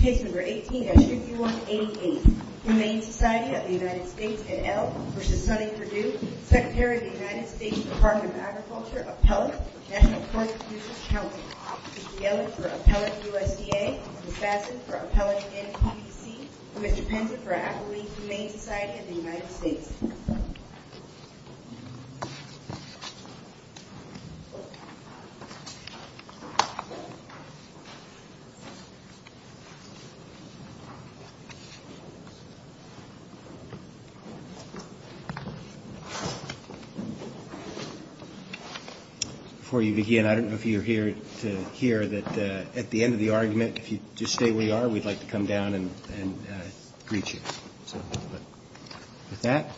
Secretary of the United States Department of Agriculture, Appellate, and Projection of Corpus Christi Council. The L is for Appellate USDA, the F is for Appellate NCC, and the P is for Appellate Humane Society of the United States. Before you begin, I don't know if you're here to hear that at the end of the argument, if you just stay where you are, we'd like to come down and greet you. With that,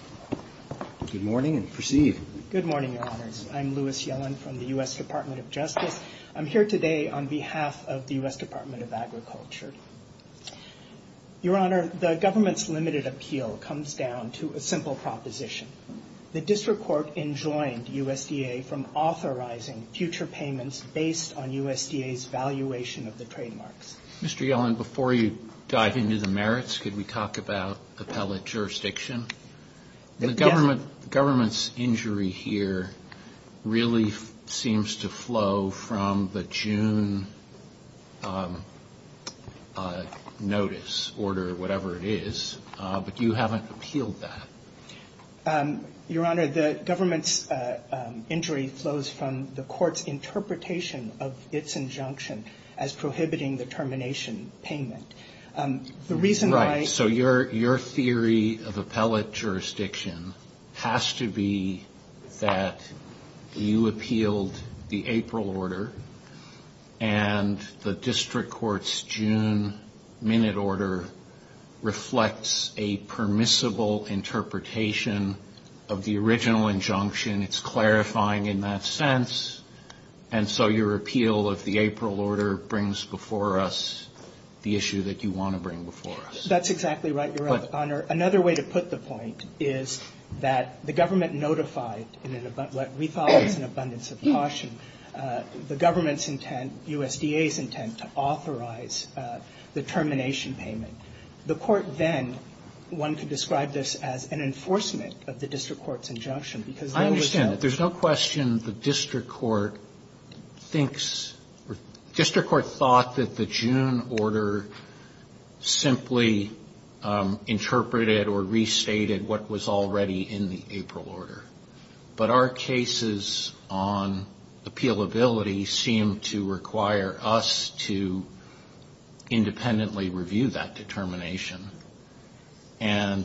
good morning and proceed. Good morning, Your Honors. I'm Louis Yellen from the U.S. Department of Justice. I'm here today on behalf of the U.S. Department of Agriculture. Your Honor, the government's limited appeal comes down to a simple proposition. The District Court enjoined USDA from authorizing future payments based on USDA's valuation of the trademarks. Mr. Yellen, before you dive into the merits, could we talk about appellate jurisdiction? The government's injury here really seems to flow from the June notice order, whatever it is, but you haven't appealed that. Your Honor, the government's injury flows from the court's interpretation of its injunction as prohibiting the termination payment. Right, so your theory of appellate jurisdiction has to be that you appealed the April order, and the District Court's June minute order reflects a permissible interpretation of the original injunction. It's clarifying in that sense, and so your appeal of the April order brings before us the issue that you want to bring before us. That's exactly right, Your Honor. Another way to put the point is that the government notified in what we thought was an abundance of caution, the government's intent, USDA's intent, to authorize the termination payment. The court then wanted to describe this as an enforcement of the District Court's injunction. I understand. There's no question the District Court thinks, the District Court thought that the June order simply interpreted or restated what was already in the April order, but our cases on appealability seem to require us to independently review that determination, and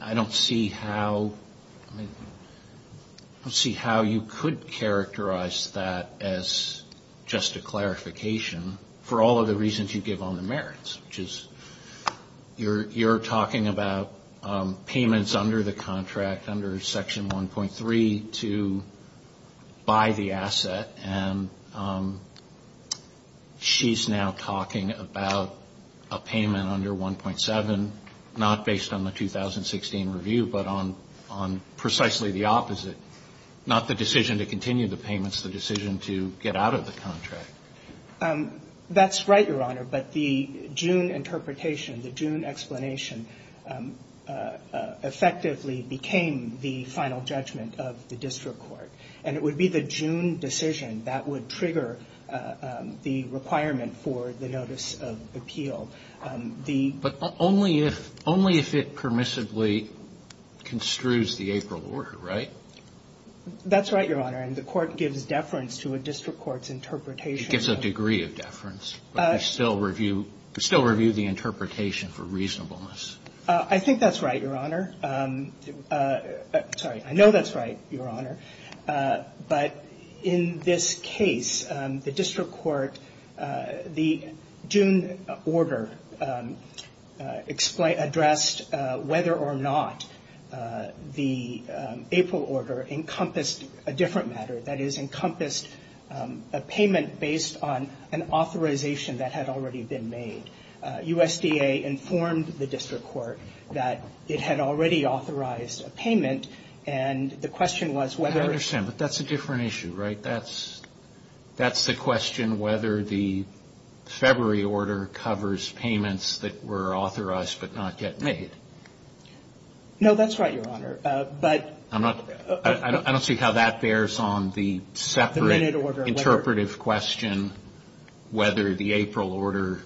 I don't see how you could characterize that as just a clarification for all of the reasons you give on the merits, which is you're talking about payments under the contract, under Section 1.3, to buy the asset, and she's now talking about a payment under 1.7, not based on the 2016 review, but on precisely the opposite, not the decision to continue the payments, the decision to get out of the contract. That's right, Your Honor, but the June interpretation, the June explanation, effectively became the final judgment of the District Court, and it would be the June decision that would trigger the requirement for the notice of appeal. But only if it permissively construes the April order, right? That's right, Your Honor, and the Court gives deference to a District Court's interpretation. It gives a degree of deference, but we still review the interpretation for reasonableness. I think that's right, Your Honor. Sorry, I know that's right, Your Honor, but in this case, the District Court, the June order addressed whether or not the April order encompassed a different matter, that is, encompassed a payment based on an authorization that had already been made. USDA informed the District Court that it had already authorized a payment, and the question was whether... I understand, but that's a different issue, right? That's the question whether the February order covers payments that were authorized but not yet made. No, that's right, Your Honor, but... I don't see how that bears on the separate interpretive question whether the April order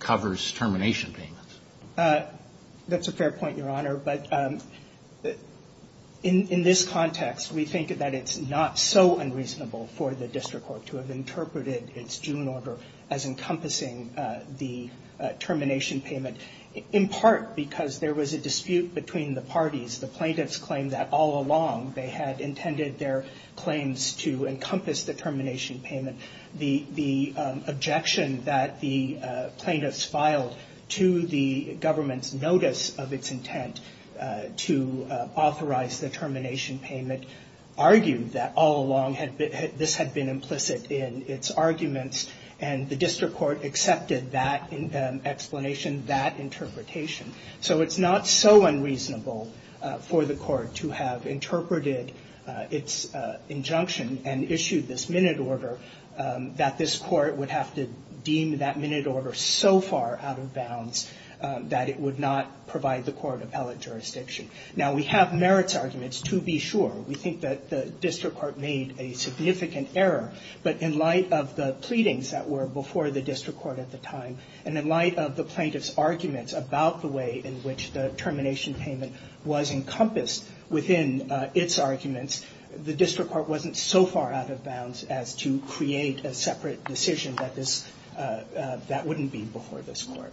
covers termination payments. That's a fair point, Your Honor, but in this context, we think that it's not so unreasonable for the District Court to have interpreted its June order as encompassing the termination payment, in part because there was a dispute between the parties. The plaintiffs claimed that all along they had intended their claims to encompass the termination payment. The objection that the plaintiffs filed to the government's notice of its intent to authorize the termination payment argued that all along this had been implicit in its arguments, and the District Court accepted that explanation, that interpretation. So it's not so unreasonable for the court to have interpreted its injunction and issued this minute order that this court would have to deem that minute order so far out of bounds that it would not provide the court appellate jurisdiction. Now, we have merits arguments, to be sure. We think that the District Court made a significant error, but in light of the pleadings that were before the District Court at the time and in light of the plaintiff's argument about the way in which the termination payment was encompassed within its arguments, the District Court wasn't so far out of bounds as to create a separate decision that wouldn't be before this court.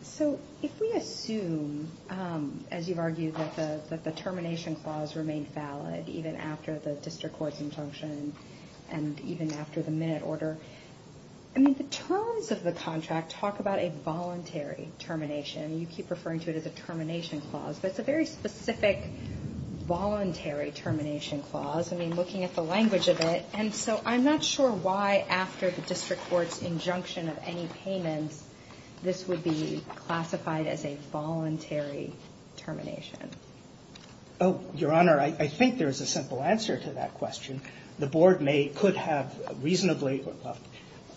So if we assume, as you've argued, that the termination clause remains valid even after the District Court's injunction and even after the minute order, I mean, the terms of the contract talk about a voluntary termination. You keep referring to it as a termination clause, but it's a very specific voluntary termination clause. I mean, looking at the language of it. And so I'm not sure why, after the District Court's injunction of any payment, this would be classified as a voluntary termination. Oh, Your Honor, I think there's a simple answer to that question. The Board could have reasonably or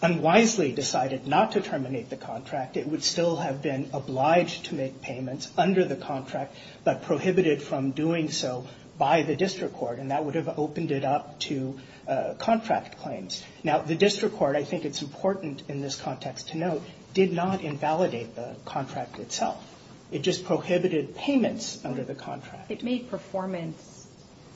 unwisely decided not to terminate the contract. It would still have been obliged to make payments under the contract, but prohibited from doing so by the District Court, and that would have opened it up to contract claims. Now, the District Court, I think it's important in this context to note, did not invalidate the contract itself. It just prohibited payments under the contract. It made performance,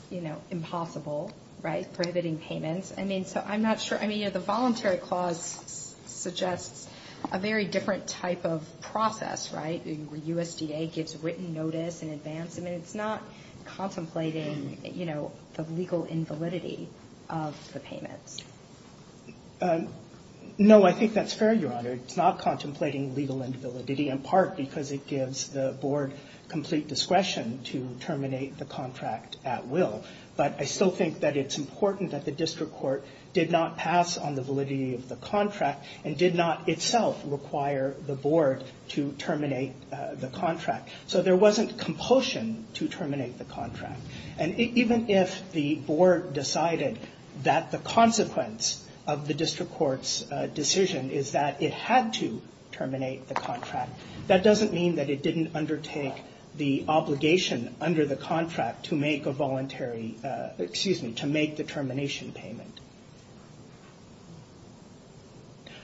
you know, impossible, right, prohibiting payments. I mean, so I'm not sure. I mean, the voluntary clause suggests a very different type of process, right? The USDA gets written notice in advance. I mean, it's not contemplating, you know, the legal invalidity of the payment. No, I think that's fair, Your Honor. It's not contemplating legal invalidity, in part because it gives the Board complete discretion to terminate the contract at will. But I still think that it's important that the District Court did not pass on the validity of the contract and did not itself require the Board to terminate the contract. So there wasn't compulsion to terminate the contract. And even if the Board decided that the consequence of the District Court's decision is that it had to terminate the contract, that doesn't mean that it didn't undertake the obligation under the contract to make a voluntary, excuse me, to make the termination payment.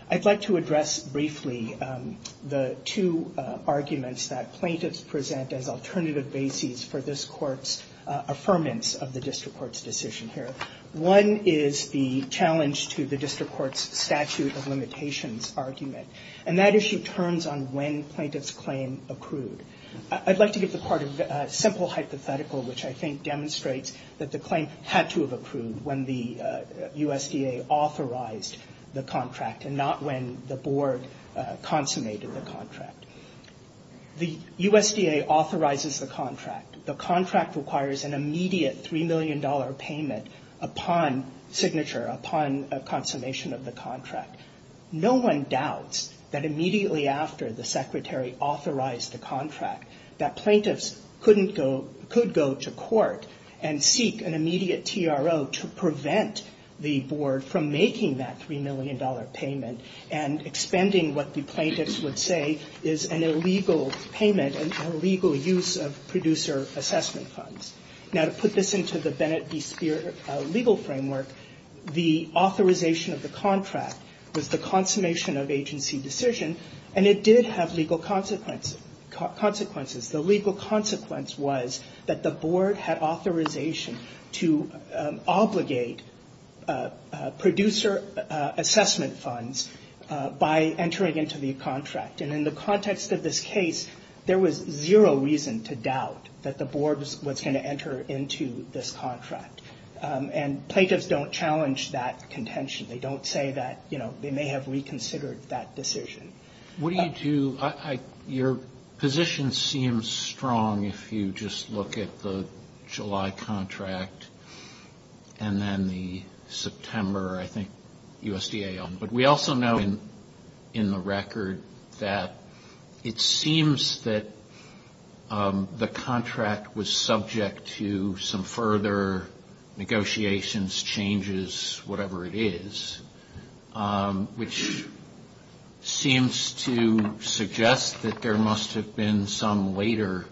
I'd like to address briefly the two arguments that plaintiffs present as alternative bases for this Court's affirmance of the District Court's decision here. One is the challenge to the District Court's statute of limitations argument. And that issue turns on when plaintiffs' claim accrued. I'd like to give the Court a simple hypothetical, which I think demonstrates that the claim had to have accrued when the USDA authorized the contract and not when the Board consummated the contract. The USDA authorizes the contract. The contract requires an immediate $3 million payment upon signature, upon consummation of the contract. No one doubts that immediately after the Secretary authorized the contract that plaintiffs could go to court and seek an immediate TRO to prevent the Board from making that $3 million payment and expending what the plaintiffs would say is an illegal payment, an illegal use of producer assessment funds. Now, to put this into the Bennett v. Speer legal framework, the authorization of the contract was the consummation of agency decision and it did have legal consequences. The legal consequence was that the Board had authorization to obligate producer assessment funds by entering into the contract. And in the context of this case, there was zero reason to doubt that the Board was going to enter into this contract. And plaintiffs don't challenge that contention. They don't say that they may have reconsidered that decision. What do you do? Your position seems strong if you just look at the July contract and then the September, I think, USDA. But we also know in the record that it seems that the contract was subject to some further negotiations, changes, whatever it is, which seems to suggest that there must have been some later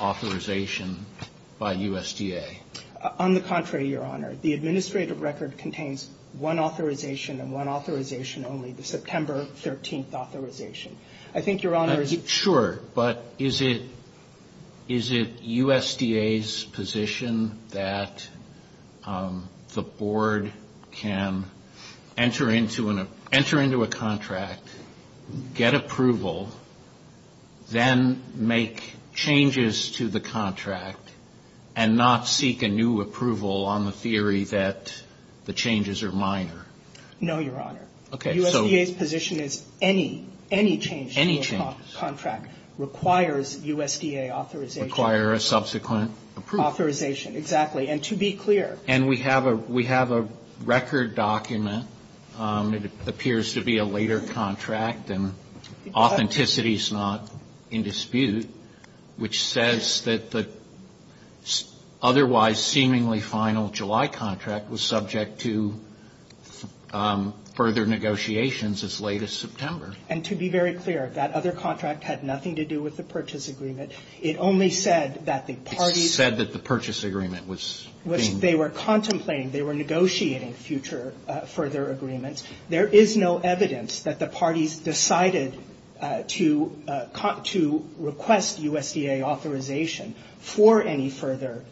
authorization by USDA. On the contrary, Your Honor. The administrative record contains one authorization and one authorization only, the September 13th authorization. Sure. But is it USDA's position that the Board can enter into a contract, get approval, then make changes to the contract and not seek a new approval on the theory that the changes are minor? No, Your Honor. USDA's position is any change to the contract requires USDA authorization. Requires a subsequent approval. Authorization, exactly. And to be clear. And we have a record document. It appears to be a later contract and authenticity is not in dispute, which says that the otherwise seemingly final July contract was subject to further negotiations as late as September. And to be very clear, that other contract had nothing to do with the purchase agreement. It only said that the parties... It said that the purchase agreement was being... They were contemplating, they were negotiating future further agreements. There is no evidence that the parties decided to request USDA authorization for any further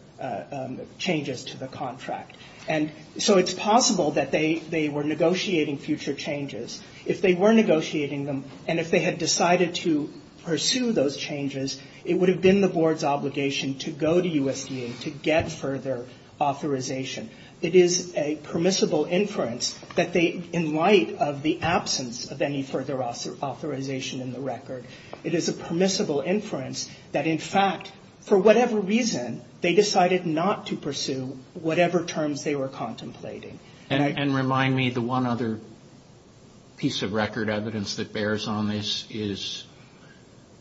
changes to the contract. And so it's possible that they were negotiating future changes. If they were negotiating them and if they had decided to pursue those changes, it would have been the Board's obligation to go to USDA to get further authorization. It is a permissible inference that they, in light of the absence of any further authorization in the record, it is a permissible inference that, in fact, for whatever reason, they decided not to pursue whatever terms they were contemplating. And remind me, the one other piece of record evidence that bears on this is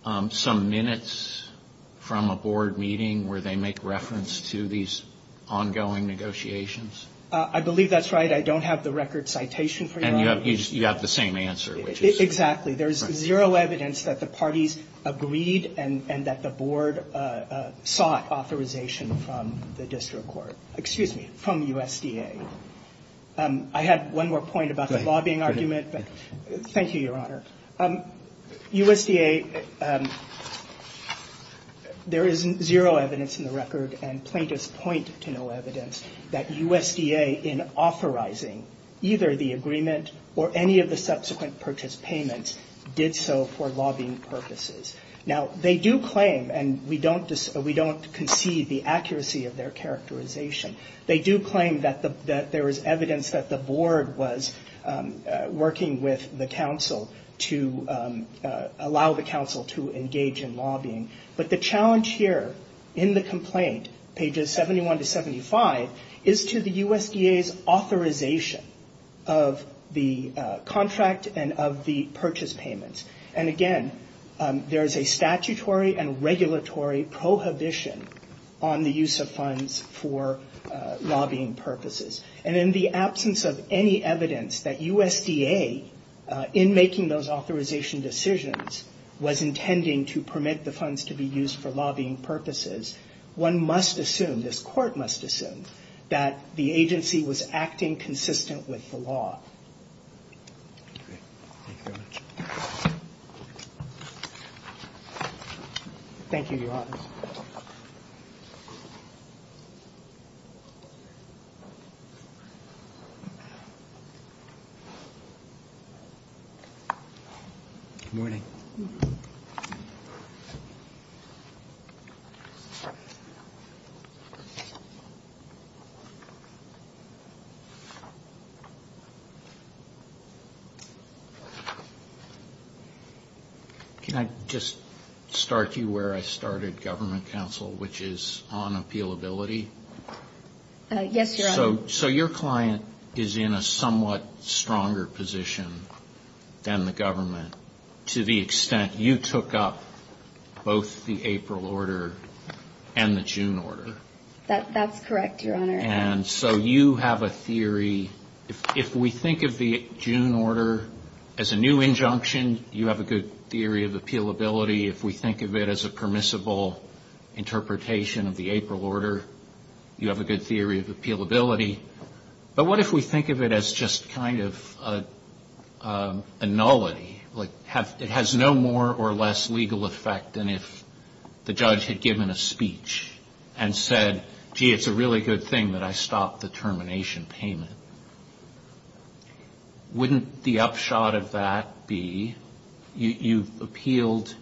some minutes from a Board meeting where they make reference to these ongoing negotiations? I believe that's right. I don't have the record citation for you. And you have the same answer, which is... Exactly. There's zero evidence that the parties agreed and that the Board sought authorization from the District Court. Excuse me, from USDA. I have one more point about the lobbying argument. Thank you, Your Honor. USDA, there is zero evidence in the record, and plaintiffs point to no evidence, that USDA, in authorizing either the agreement or any of the subsequent purchase payments, did so for lobbying purposes. Now, they do claim, and we don't concede the accuracy of their characterization, they do claim that there is evidence that the Board was working with the Council to allow the Council to engage in lobbying. But the challenge here, in the complaint, pages 71 to 75, is to the USDA's authorization of the contract and of the purchase payments. And again, there is a statutory and regulatory prohibition on the use of funds for lobbying purposes. And in the absence of any evidence that USDA, in making those authorization decisions, was intending to permit the funds to be used for lobbying purposes, one must assume, this Court must assume, that the agency was acting consistent with the law. Thank you. Can I just start you where I started, Government Council, which is on appealability? Yes, Your Honor. So your client is in a somewhat stronger position than the Government, to the extent you took up both the April order and the June order. That's correct, Your Honor. And so you have a theory, if we think of the June order as a new injunction, you have a good theory of appealability. Similarly, if we think of it as a permissible interpretation of the April order, you have a good theory of appealability. But what if we think of it as just kind of a nullity? Like, it has no more or less legal effect than if the judge had given a speech and said, gee, it's a really good thing that I stopped the termination payment. Wouldn't the upshot of that be, you've appealed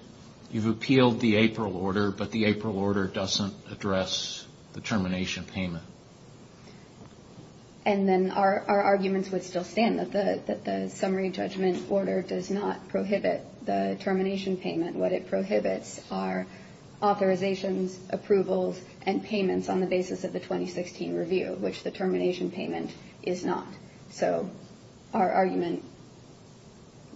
the April order, but the April order doesn't address the termination payment? And then our arguments would still stand, that the summary judgment order does not prohibit the termination payment. What it prohibits are authorizations, approvals, and payments on the basis of the 2016 review, which the termination payment is not. So our argument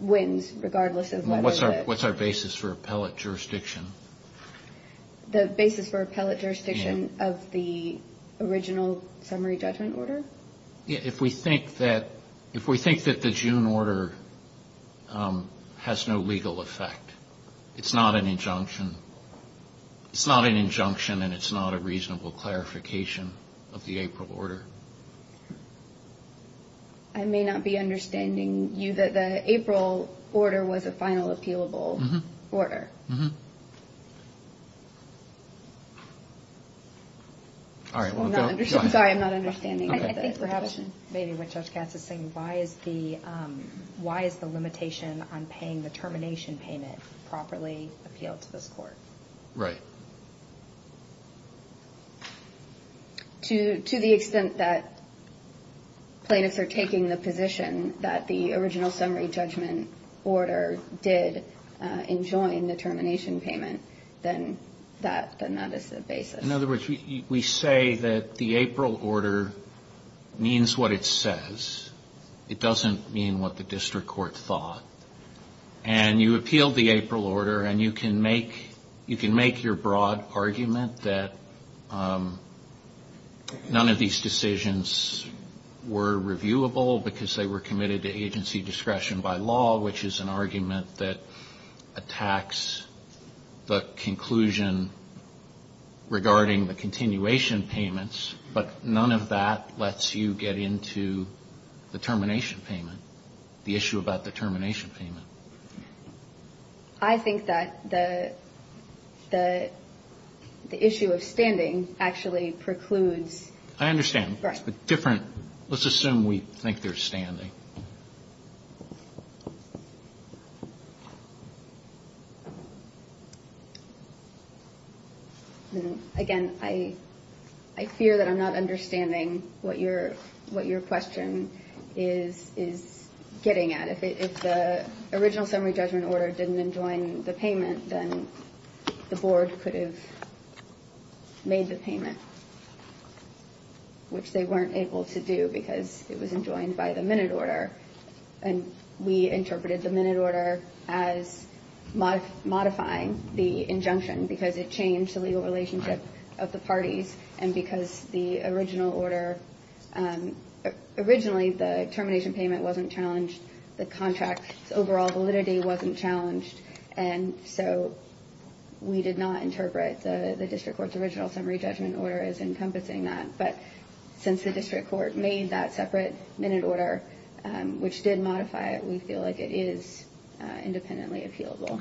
wins, regardless of whether or not it's... What's our basis for appellate jurisdiction? The basis for appellate jurisdiction of the original summary judgment order? If we think that the June order has no legal effect, it's not an injunction. It's not an injunction, and it's not a reasonable clarification of the April order. I may not be understanding you, that the April order was a final appealable order. Sorry, I'm not understanding what you're saying. I think we have a question. Maybe what Judge Cass is saying, why is the limitation on paying the termination payment properly appealed to this court? Right. To the extent that plaintiffs are taking the position that the original summary judgment order did enjoin the termination payment, then that is the basis. In other words, we say that the April order means what it says. It doesn't mean what the district court thought. And you appeal the April order, and you can make your broad argument that none of these decisions were reviewable because they were committed to agency discretion by law, which is an argument that attacks the conclusion regarding the continuation payments, but none of that lets you get into the termination payment, the issue about the termination payment. I think that the issue of standing actually precludes... I understand. Right. It's different. Let's assume we think there's standing. Again, I fear that I'm not understanding what your question is getting at. If the original summary judgment order didn't enjoin the payment, then the board could have made the payment, which they weren't able to do because it was enjoined by the minute order. And we interpreted the minute order as modifying the injunction because it changed the legal relationship of the parties, and because the original order... Originally, the termination payment wasn't challenged. The contract's overall validity wasn't challenged. And so we did not interpret the district court's original summary judgment order as encompassing that. But since the district court made that separate minute order, which did modify it, we feel like it is independently appealable.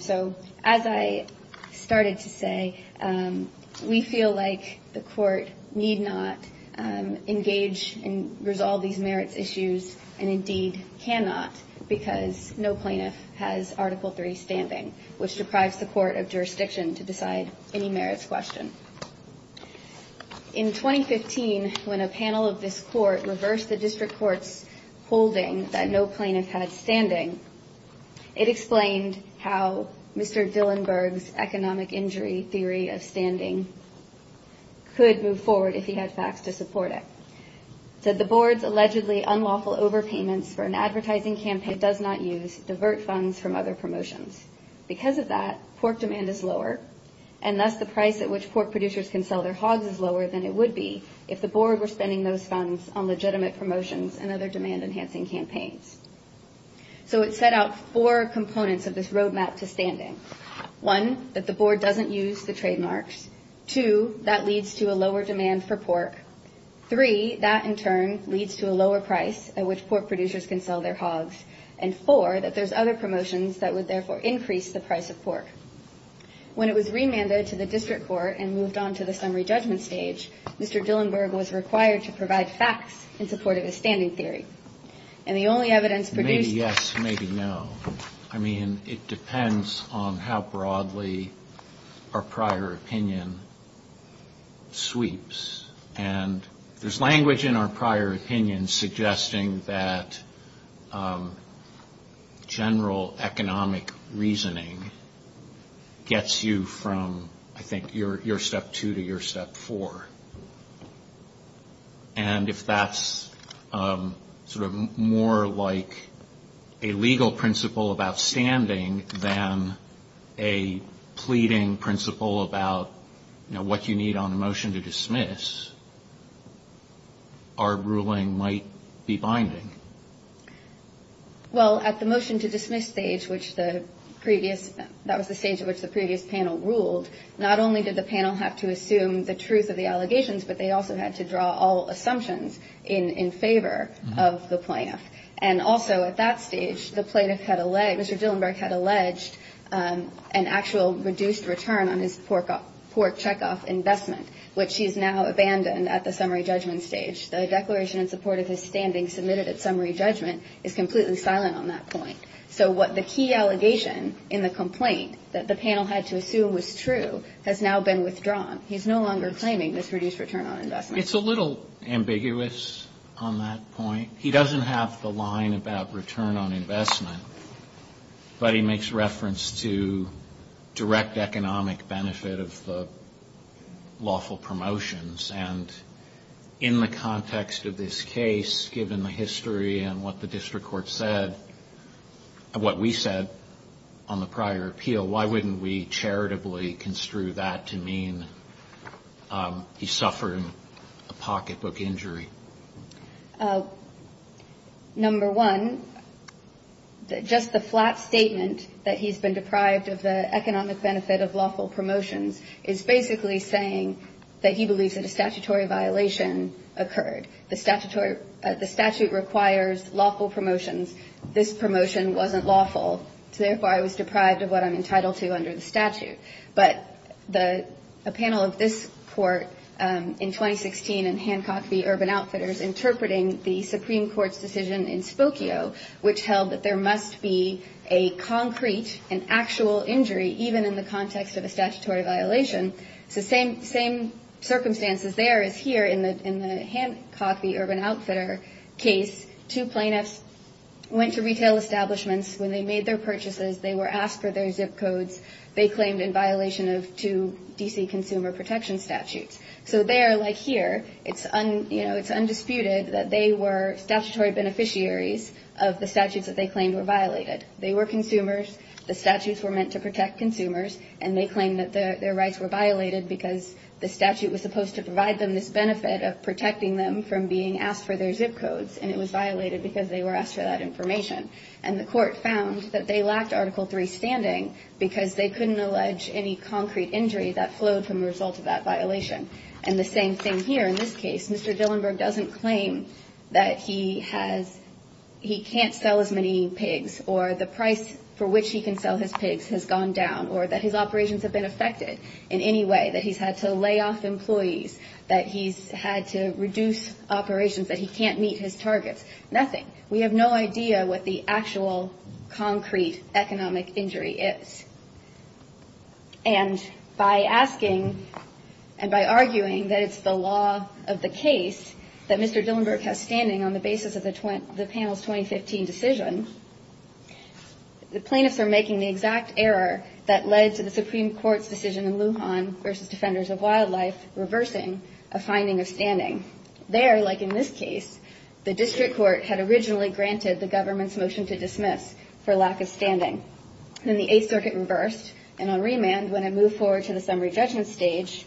So as I started to say, we feel like the court need not engage in resolving merit issues, and indeed cannot because no plaintiff has Article III standing, which requires the court of jurisdiction to decide any merits question. In 2015, when a panel of this court reversed the district court's holding that no plaintiff has standing, it explained how Mr. Zillenberg's economic injury theory of standing could move forward if he had facts to support it. So the board's allegedly unlawful overpayments for an advertising campaign does not use divert funds from other promotions. Because of that, pork demand is lower, and thus the price at which pork producers can sell their hogs is lower than it would be if the board were spending those funds on legitimate promotions and other demand-enhancing campaigns. So it set out four components of this roadmap to standing. One, that the board doesn't use the trademarks. Two, that leads to a lower demand for pork. Three, that in turn leads to a lower price at which pork producers can sell their hogs. And four, that there's other promotions that would therefore increase the price of pork. When it was remanded to the district court and moved on to the summary judgment stage, Mr. Zillenberg was required to provide facts in support of his standing theory. And the only evidence produced- Maybe yes, maybe no. I mean, it depends on how broadly our prior opinion sweeps. And there's language in our prior opinion suggesting that general economic reasoning gets you from, I think, your step two to your step four. And if that's sort of more like a legal principle of outstanding than a pleading principle about, you know, what you need on a motion to dismiss, our ruling might be binding. Well, at the motion to dismiss stage, which the previous- that was the stage at which the previous panel ruled, not only did the panel have to assume the truth of the allegations, but they also had to draw all assumptions in favor of the plaintiff. And also at that stage, the plaintiff had alleged- Mr. Zillenberg had alleged an actual reduced return on his pork checkoff investment, which he has now abandoned at the summary judgment stage. The declaration in support of his standing submitted at summary judgment is completely silent on that point. So what the key allegation in the complaint that the panel had to assume was true has now been withdrawn. He's no longer claiming this reduced return on investment. It's a little ambiguous on that point. He doesn't have the line about return on investment, but he makes reference to direct economic benefit of lawful promotions. And in the context of this case, given the history and what the district court said, what we said on the prior appeal, why wouldn't we charitably construe that to mean he suffered a pocketbook injury? Number one, just the flat statement that he's been deprived of the economic benefit of lawful promotions is basically saying that he believes that a statutory violation occurred. The statute requires lawful promotions. This promotion wasn't lawful, so therefore I was deprived of what I'm entitled to under the statute. But a panel of this court in 2016 in Hancock v. Urban Outfitters interpreting the Supreme Court's decision in Spokio, which held that there must be a concrete and actual injury even in the context of a statutory violation. The same circumstances there as here in the Hancock v. Urban Outfitter case. Two plaintiffs went to retail establishments. When they made their purchases, they were asked for their zip codes. They claimed in violation of two D.C. consumer protection statutes. So there, like here, it's undisputed that they were statutory beneficiaries of the statutes that they claimed were violated. They were consumers. The statutes were meant to protect consumers. And they claimed that their rights were violated because the statute was supposed to provide them this benefit of protecting them from being asked for their zip codes. And the court found that they lacked Article III standing because they couldn't allege any concrete injury that flowed from the result of that violation. And the same thing here in this case. Mr. Dillenberg doesn't claim that he can't sell as many pigs or the price for which he can sell his pigs has gone down or that his operations have been affected in any way, that he's had to lay off employees, that he's had to reduce operations, that he can't meet his targets. Nothing. We have no idea what the actual concrete economic injury is. And by asking and by arguing that it's the law of the case that Mr. Dillenberg has standing on the basis of the Panel's 2015 decision, the plaintiffs are making the exact error that led to the Supreme Court's decision in Wuhan versus Defenders of Wildlife reversing a finding of standing. There, like in this case, the district court had originally granted the government's motion to dismiss for lack of standing. Then the Eighth Circuit reversed, and on remand, when it moved forward to the summary judgment stage,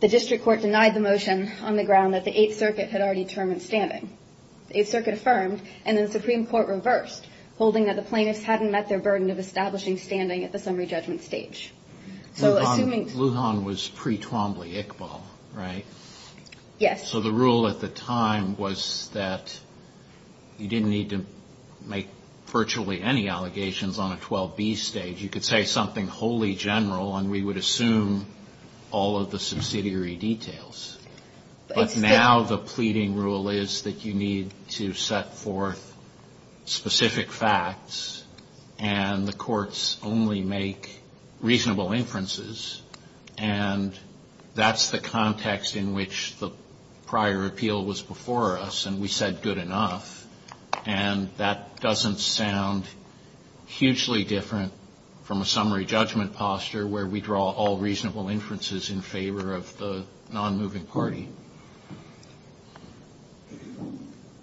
the district court denied the motion on the ground that the Eighth Circuit had already determined standing. The Eighth Circuit affirmed, and then the Supreme Court reversed, holding that the plaintiffs hadn't met their burden of establishing standing at the summary judgment stage. Wuhan was pre-Twombly-Iqbal, right? Yes. So the rule at the time was that you didn't need to make virtually any allegations on a 12B stage. You could say something wholly general, and we would assume all of the subsidiary details. But now the pleading rule is that you need to set forth specific facts, and the courts only make reasonable inferences. And that's the context in which the prior appeal was before us, and we said, good enough. And that doesn't sound hugely different from a summary judgment posture, where we draw all reasonable inferences in favor of the non-moving party.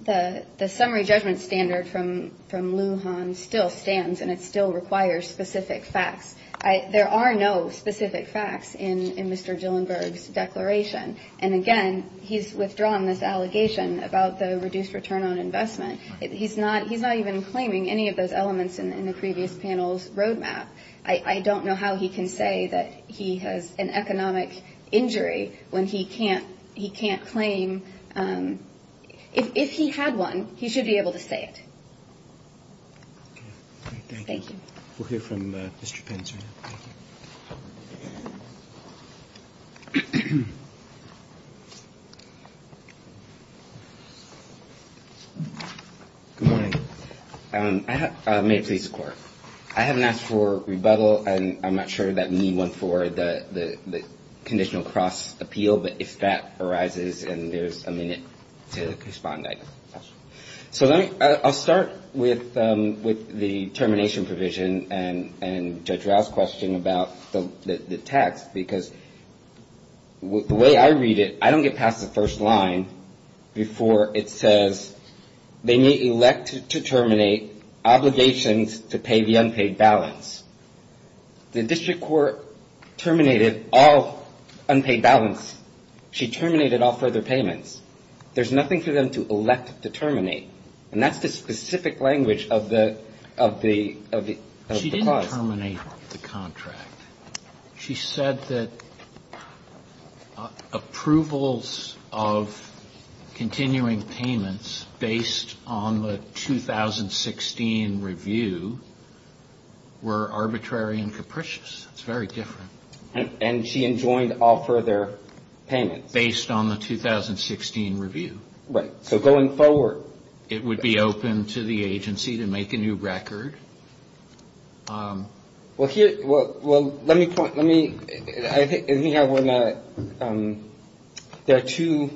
The summary judgment standard from Wuhan still stands, and it still requires specific facts. There are no specific facts in Mr. Dillenberg's declaration. And again, he's withdrawn this allegation about the reduced return on investment. He's not even claiming any of those elements in the previous panel's roadmap. I don't know how he can say that he has an economic injury when he can't claim – if he had one, he should be able to say it. Thank you. We'll hear from Mr. Tinsman. Thank you. May it please the Court. I haven't asked for rebuttal, and I'm not sure that we need one for the conditional cross-appeal, but if that arises, then there's a minute to respond. So I'll start with the termination provision and Judge Rao's question about the tax, because the way I read it, I don't get past the first line before it says, they may elect to terminate obligations to pay the unpaid balance. The district court terminated all unpaid balance. She terminated all further payments. There's nothing for them to elect to terminate. And that's the specific language of the clause. She didn't terminate the contract. She said that approvals of continuing payments based on the 2016 review were arbitrary and capricious. It's very different. And she enjoined all further payments. Based on the 2016 review. Right. So going forward. It would be open to the agency to make a new record. Well, let me point, there are two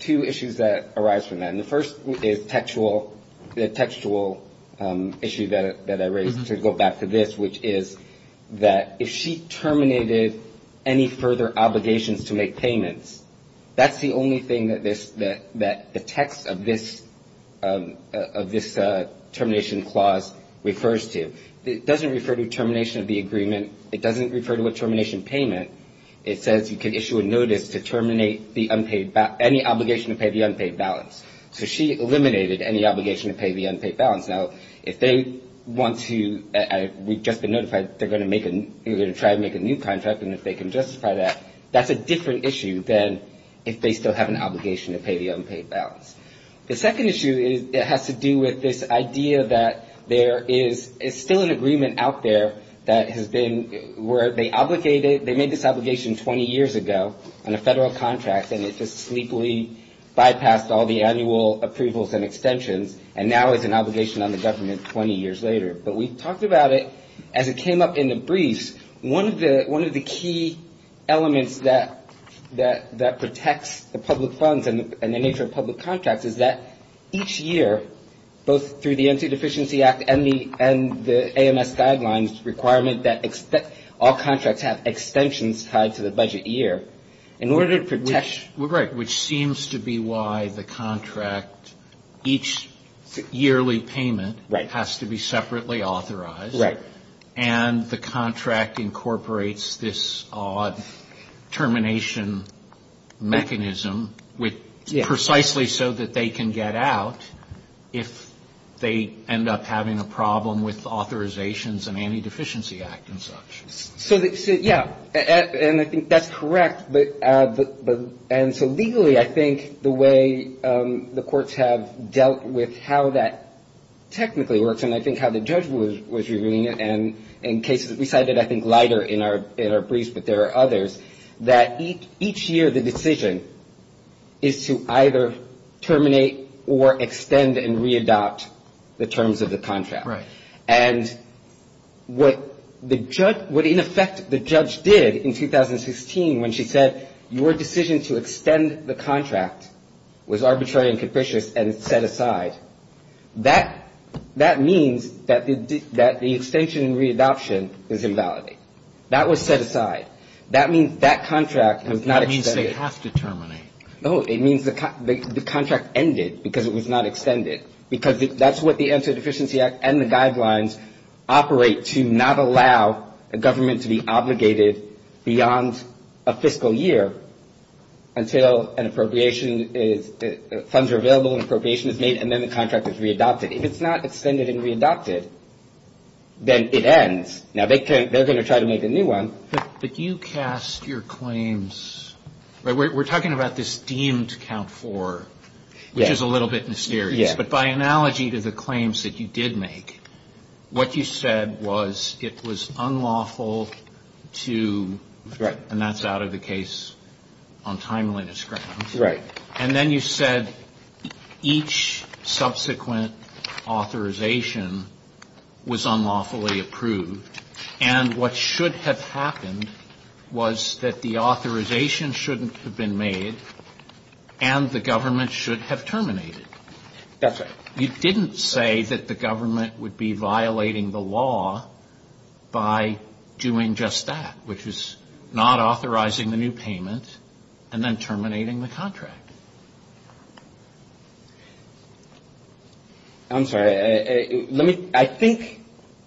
issues that arise from that. And the first is the textual issue that I raised, to go back to this, which is that if she terminated any further obligations to make payments, that's the only thing that the text of this termination clause refers to. It doesn't refer to termination of the agreement. It doesn't refer to a termination payment. It says you can issue a notice to terminate any obligation to pay the unpaid balance. So she eliminated any obligation to pay the unpaid balance. Now, if they want to, we've just been notified, they're going to try to make a new contract, and if they can justify that, that's a different issue than if they still have an obligation to pay the unpaid balance. The second issue has to do with this idea that there is still an agreement out there that has been, where they made this obligation 20 years ago on a federal contract, and it just sneakily bypassed all the annual approvals and extensions, and now it's an obligation on the government 20 years later. But we talked about it as it came up in the brief. One of the key elements that protects the public funds and the nature of public contracts is that each year, both through the Empty Deficiency Act and the AMS guidelines requirement that all contracts have extensions tied to the budget year. In order to protect... Right, which seems to be why the contract, each yearly payment has to be separately authorized, and the contract incorporates this odd termination mechanism precisely so that they can get out if they end up having a problem with authorizations and anti-deficiency act and such. So, yeah, and I think that's correct, and so legally I think the way the courts have dealt with how that technically works and I think how the judge was reviewing it in cases we cited I think lighter in our briefs, but there are others, that each year the decision is to either terminate or extend and re-adopt the terms of the contract. Right. And what in effect the judge did in 2016 when she said, your decision to extend the contract was arbitrary and capricious and it's set aside, that means that the extension and re-adoption is invalid. That was set aside. That means that contract was not extended. That means they have to terminate. No, it means the contract ended because it was not extended because that's what the Amputee Deficiency Act and the guidelines operate to not allow a government to be obligated beyond a fiscal year until an appropriation is, funds are available and appropriation is made and then the contract is re-adopted. If it's not extended and re-adopted, then it ends. Now, they're going to try to make a new one. But you cast your claims, we're talking about this deemed count four, which is a little bit mysterious, but by analogy to the claims that you did make, what you said was it was unlawful to, and that's out of the case on timely discretion. And then you said each subsequent authorization was unlawfully approved. And what should have happened was that the authorization shouldn't have been made and the government should have terminated it. You didn't say that the government would be violating the law by doing just that, which is not authorizing the new payment and then terminating the contract. I'm sorry. Let me, I think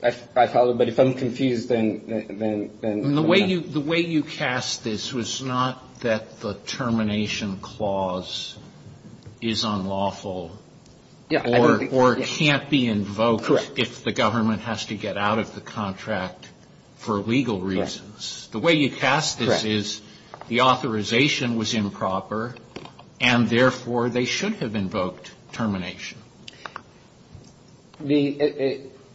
I followed, but if I'm confused then. The way you cast this was not that the termination clause is unlawful or can't be invoked if the government has to get out of the contract for legal reasons. The way you cast this is the authorization was improper and therefore they should have invoked termination.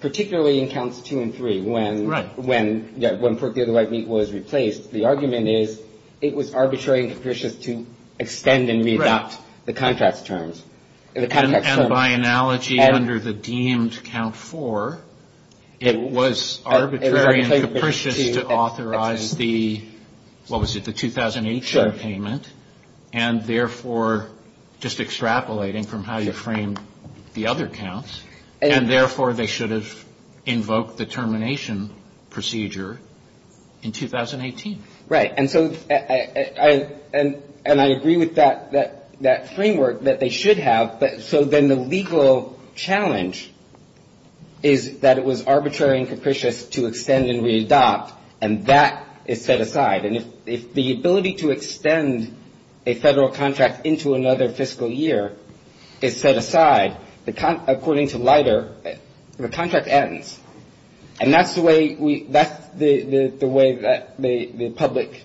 Particularly in counts two and three, when Forth, The Other Light, and Equal was replaced, the argument is it was arbitrary and capricious to extend and revoke the contract terms. And by analogy under the deemed count four, it was arbitrary and capricious to authorize the, what was it, the 2008 term payment, and therefore just extrapolating from how you framed the other counts, and therefore they should have invoked the termination procedure in 2018. Right, and so I agree with that framework that they should have, so then the legal challenge is that it was arbitrary and capricious to extend and re-adopt, and that is set aside. And if the ability to extend a federal contract into another fiscal year is set aside, according to Leiter, the contract ends. And that's the way that the public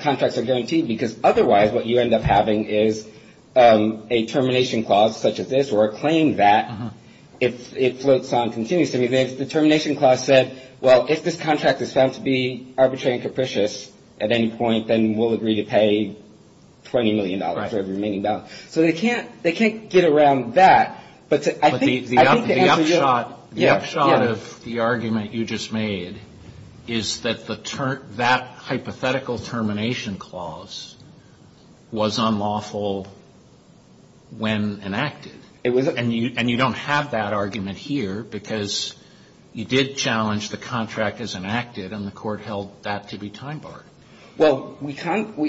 contracts are guaranteed because otherwise what you end up having is a termination clause such as this or a claim that it floats on continuously. The termination clause says, well, if this contract is set to be arbitrary and capricious at any point, then we'll agree to pay $20 million for the remaining balance. So they can't get around that, but I think the answer is yes. The upshot of the argument you just made is that hypothetical termination clause was unlawful when enacted. And you don't have that argument here because you did challenge the contract as enacted, and the court held that to be time barred. Well,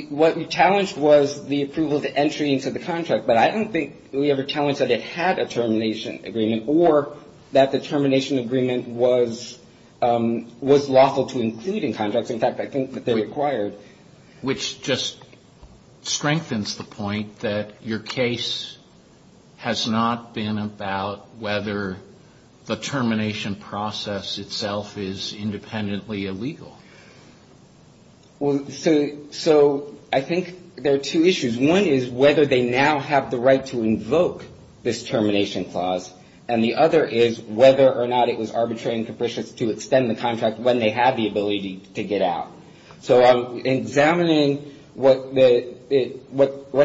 what we challenged was the approval of the entry into the contract, but I don't think we ever challenged that it had a termination agreement or that the termination agreement was lawful to include in contracts. In fact, I think that they're required. Which just strengthens the point that your case has not been about whether the termination process itself is independently illegal. So I think there are two issues. One is whether they now have the right to invoke this termination clause, and the other is whether or not it was arbitrary and capricious to extend the contract when they had the ability to get out. So I'm examining what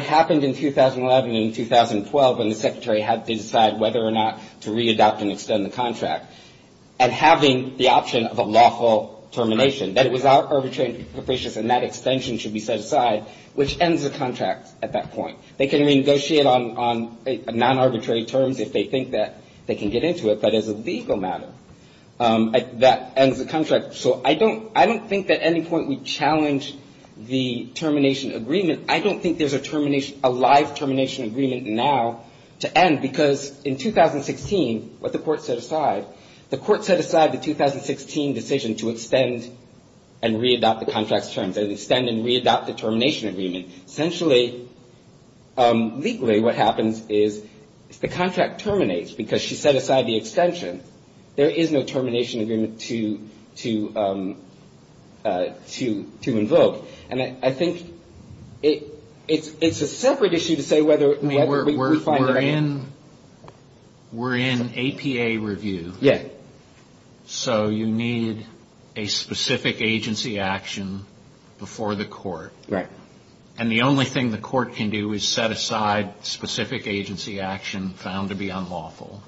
happened in 2011 and 2012 when the Secretary had to decide whether or not to readopt and extend the contract, and having the option of a lawful termination. That it was not arbitrary and capricious and that extension should be set aside, which ends the contract at that point. They can renegotiate on non-arbitrary terms if they think that they can get into it, but as a legal matter, that ends the contract. So I don't think that at any point we challenged the termination agreement. I don't think there's a live termination agreement now to end, because in 2016, what the court set aside, the court set aside the 2016 decision to extend and readopt the contract term, to extend and readopt the termination agreement. Essentially, legally, what happens is the contract terminates because she set aside the extension. There is no termination agreement to invoke. And I think it's a separate issue to say whether... We're in APA review. Yes. So you need a specific agency action before the court. Right. And the only thing the court can do is set aside specific agency action found to be unlawful.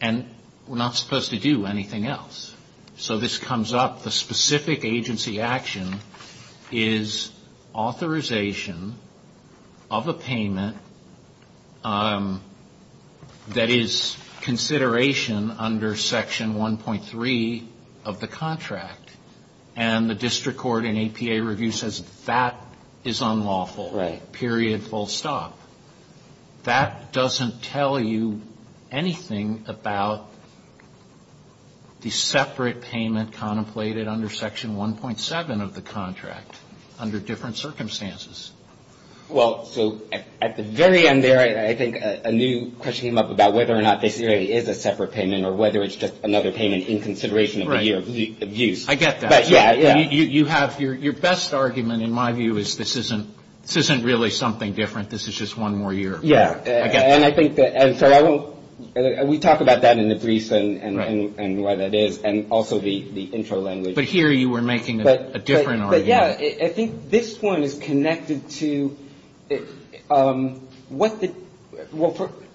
And we're not supposed to do anything else. So this comes up, the specific agency action is authorization of a payment that is consideration under Section 1.3 of the contract. And the district court in APA review says that is unlawful. Right. Period, full stop. That doesn't tell you anything about the separate payment contemplated under Section 1.7 of the contract, under different circumstances. Well, so at the very end there, I think a new question came up about whether or not the APA is a separate payment or whether it's just another payment in consideration of the year of use. I get that. You have your best argument, in my view, is this isn't really something different. This is just one more year. Yes. And I think that... We talk about that in the brief and what it is and also the intro language. But here you were making a different argument. Yes. I think this one is connected to what the...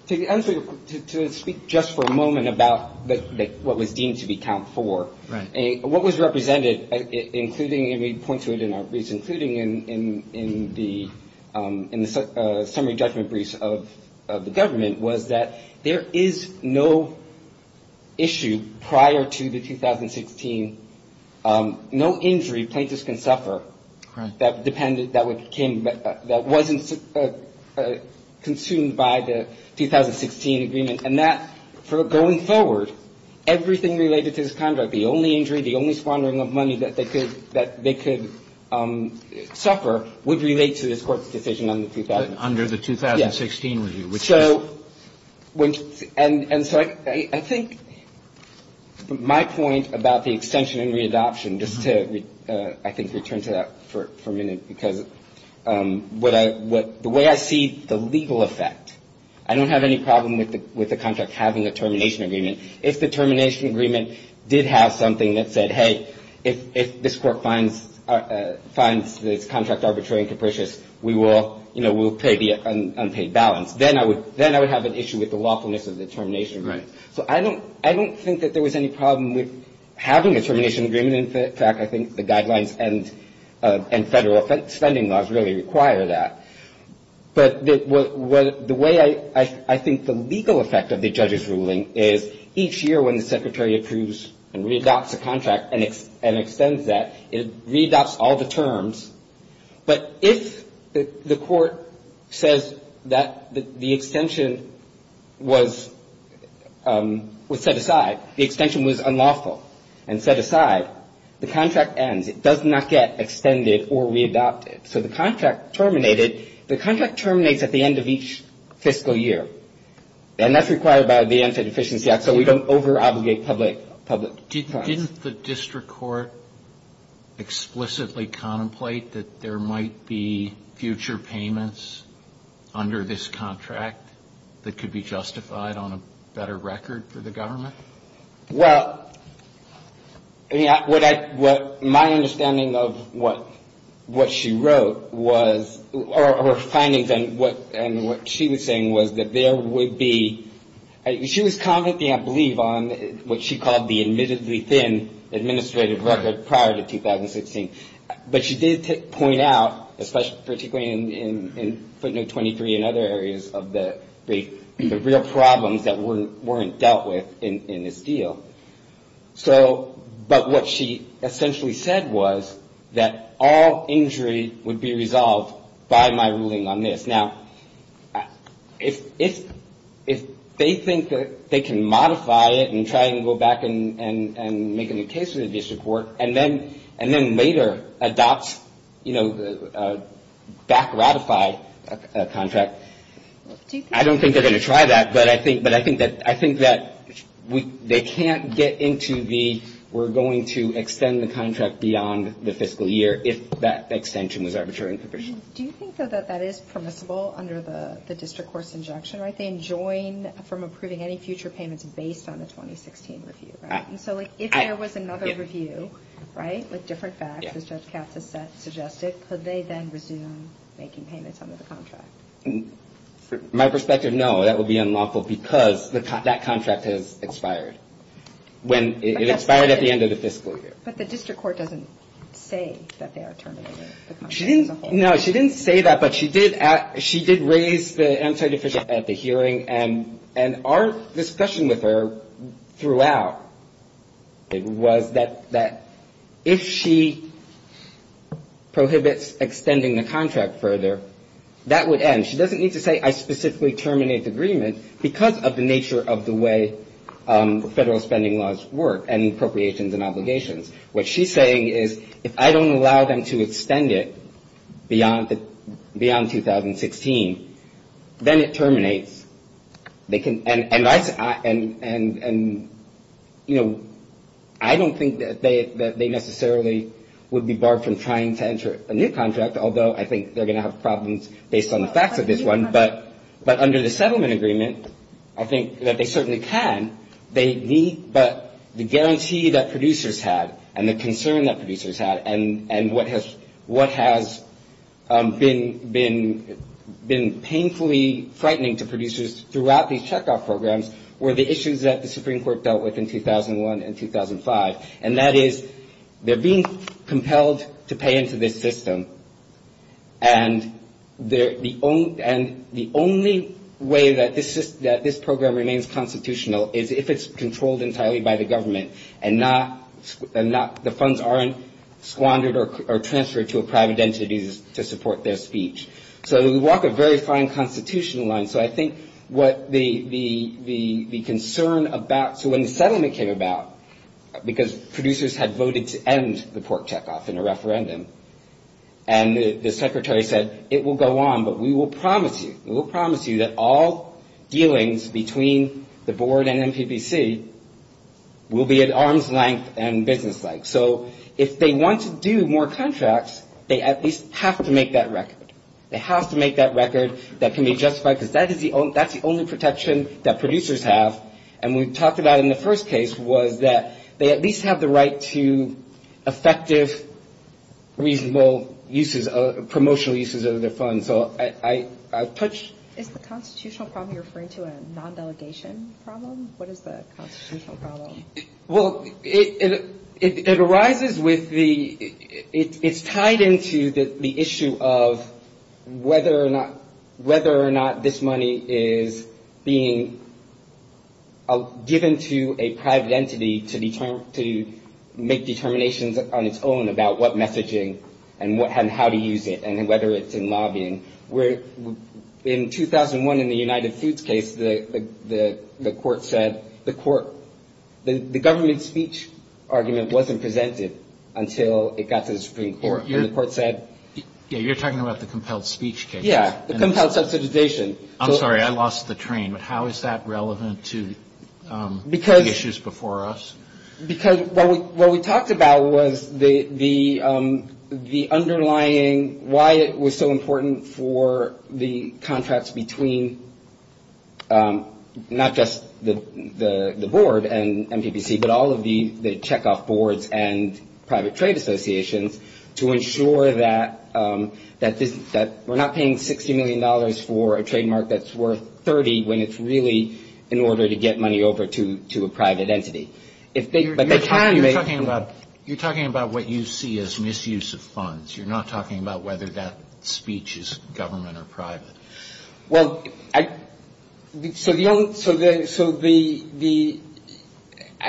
To speak just for a moment about what was deemed to be count for. Right. What was represented, including, and we point to it in our brief, including in the summary judgment briefs of the government, there is no issue prior to the 2016, no injury plaintiffs can suffer that wasn't consumed by the 2016 agreement. And that, going forward, everything related to this contract, the only injury, the only squandering of money that they could suffer, would relate to this court's decision under the 2016. Under the 2016 review. So, I think my point about the extension and re-adoption, just to, I think, return to that for a minute, because the way I see the legal effect, I don't have any problem with the contract having a termination agreement. If the termination agreement did have something that said, hey, if this court finds the contract arbitrary and capricious, we will pay the unpaid balance. Then I would have an issue with the lawfulness of the termination agreement. So, I don't think that there was any problem with having a termination agreement in effect. I think the guidelines and federal spending laws really require that. But the way I think the legal effect of the judge's ruling is, each year when the secretary approves and re-adopts a contract and extends that, it re-adopts all the terms. But if the court says that the extension was set aside, the extension was unlawful and set aside, the contract ends. It does not get extended or re-adopted. So, the contract terminates at the end of each fiscal year. And that's required by the Entity Efficiency Act, so we don't over-obligate public terms. Didn't the district court explicitly contemplate that there might be future payments under this contract that could be justified on a better record for the government? Well, my understanding of what she wrote was, or her findings, and what she was saying was that there would be, she was commenting, I believe, on what she called the admittedly thin administrative record prior to 2016. But she did point out, particularly in footnote 23 and other areas of the rate, the real problems that weren't dealt with in this deal. So, but what she essentially said was that all injuries would be resolved by my ruling on this. Now, if they think that they can modify it and try to go back and make a new case for the district court, and then later adopt, you know, back-ratify a contract, I don't think they're going to try that. But I think that they can't get into the, we're going to extend the contract beyond the fiscal year Do you think, though, that that is permissible under the district court's injunction, right? They enjoin from approving any future payments based on the 2016 review, right? And so, like, if there was another review, right, with different facts, as Judge Kass had suggested, could they then resume making payments under the contract? From my perspective, no, that would be unlawful because that contract has expired. It expired at the end of the fiscal year. But the district court doesn't say that they are terminating the contract. No, she didn't say that, but she did raise the answer at the hearing, and our discussion with her throughout was that if she prohibits extending the contract further, that would end. She doesn't need to say, I specifically terminate the agreement, because of the nature of the way federal spending laws work and appropriations and obligations. What she's saying is, if I don't allow them to extend it beyond 2016, then it terminates. And, you know, I don't think that they necessarily would be barred from trying to enter a new contract, although I think they're going to have problems based on the facts of this one. But under the settlement agreement, I think that they certainly can. But the guarantee that producers had, and the concern that producers had, and what has been painfully frightening to producers throughout these checkoff programs, were the issues that the Supreme Court dealt with in 2001 and 2005. And that is, they're being compelled to pay into this system, and the only way that this program remains constitutional is if it's controlled entirely by the government and the funds aren't squandered or transferred to a private entity to support their speech. So we walk a very fine constitutional line. So I think what the concern about, so when the settlement came about, because producers had voted to end the port checkoff in a referendum, and the secretary said, it will go on, but we will promise you, we will promise you that all dealings between the board and NTPC will be at arm's length and business-like. So if they want to do more contracts, they at least have to make that record. They have to make that record that can be justified, because that's the only protection that producers have. And what we talked about in the first case was that they at least have the right to effective, reasonable promotional uses of their funds. So I touched... Is the constitutional problem you're referring to a non-delegation problem? What is the constitutional problem? Well, it arises with the... It's tied into the issue of whether or not this money is being given to a private entity to make determinations on its own about what messaging and how to use it and whether it's in lobbying. In 2001, in the United Foods case, the court said... The government speech argument wasn't presented until it got to the Supreme Court, and the court said... Yeah, you're talking about the compelled speech case. Yeah, the compelled subjectization. I'm sorry, I lost the train, but how is that relevant to the issues before us? Because what we talked about was the underlying... Why it was so important for the contracts between not just the board and MPPC, but all of the check-off boards and private trade associations to ensure that we're not paying $60 million for a trademark that's worth $30 million when it's really in order to get money over to a private entity. You're talking about what you see as misuse of funds. You're not talking about whether that speech is government or private. I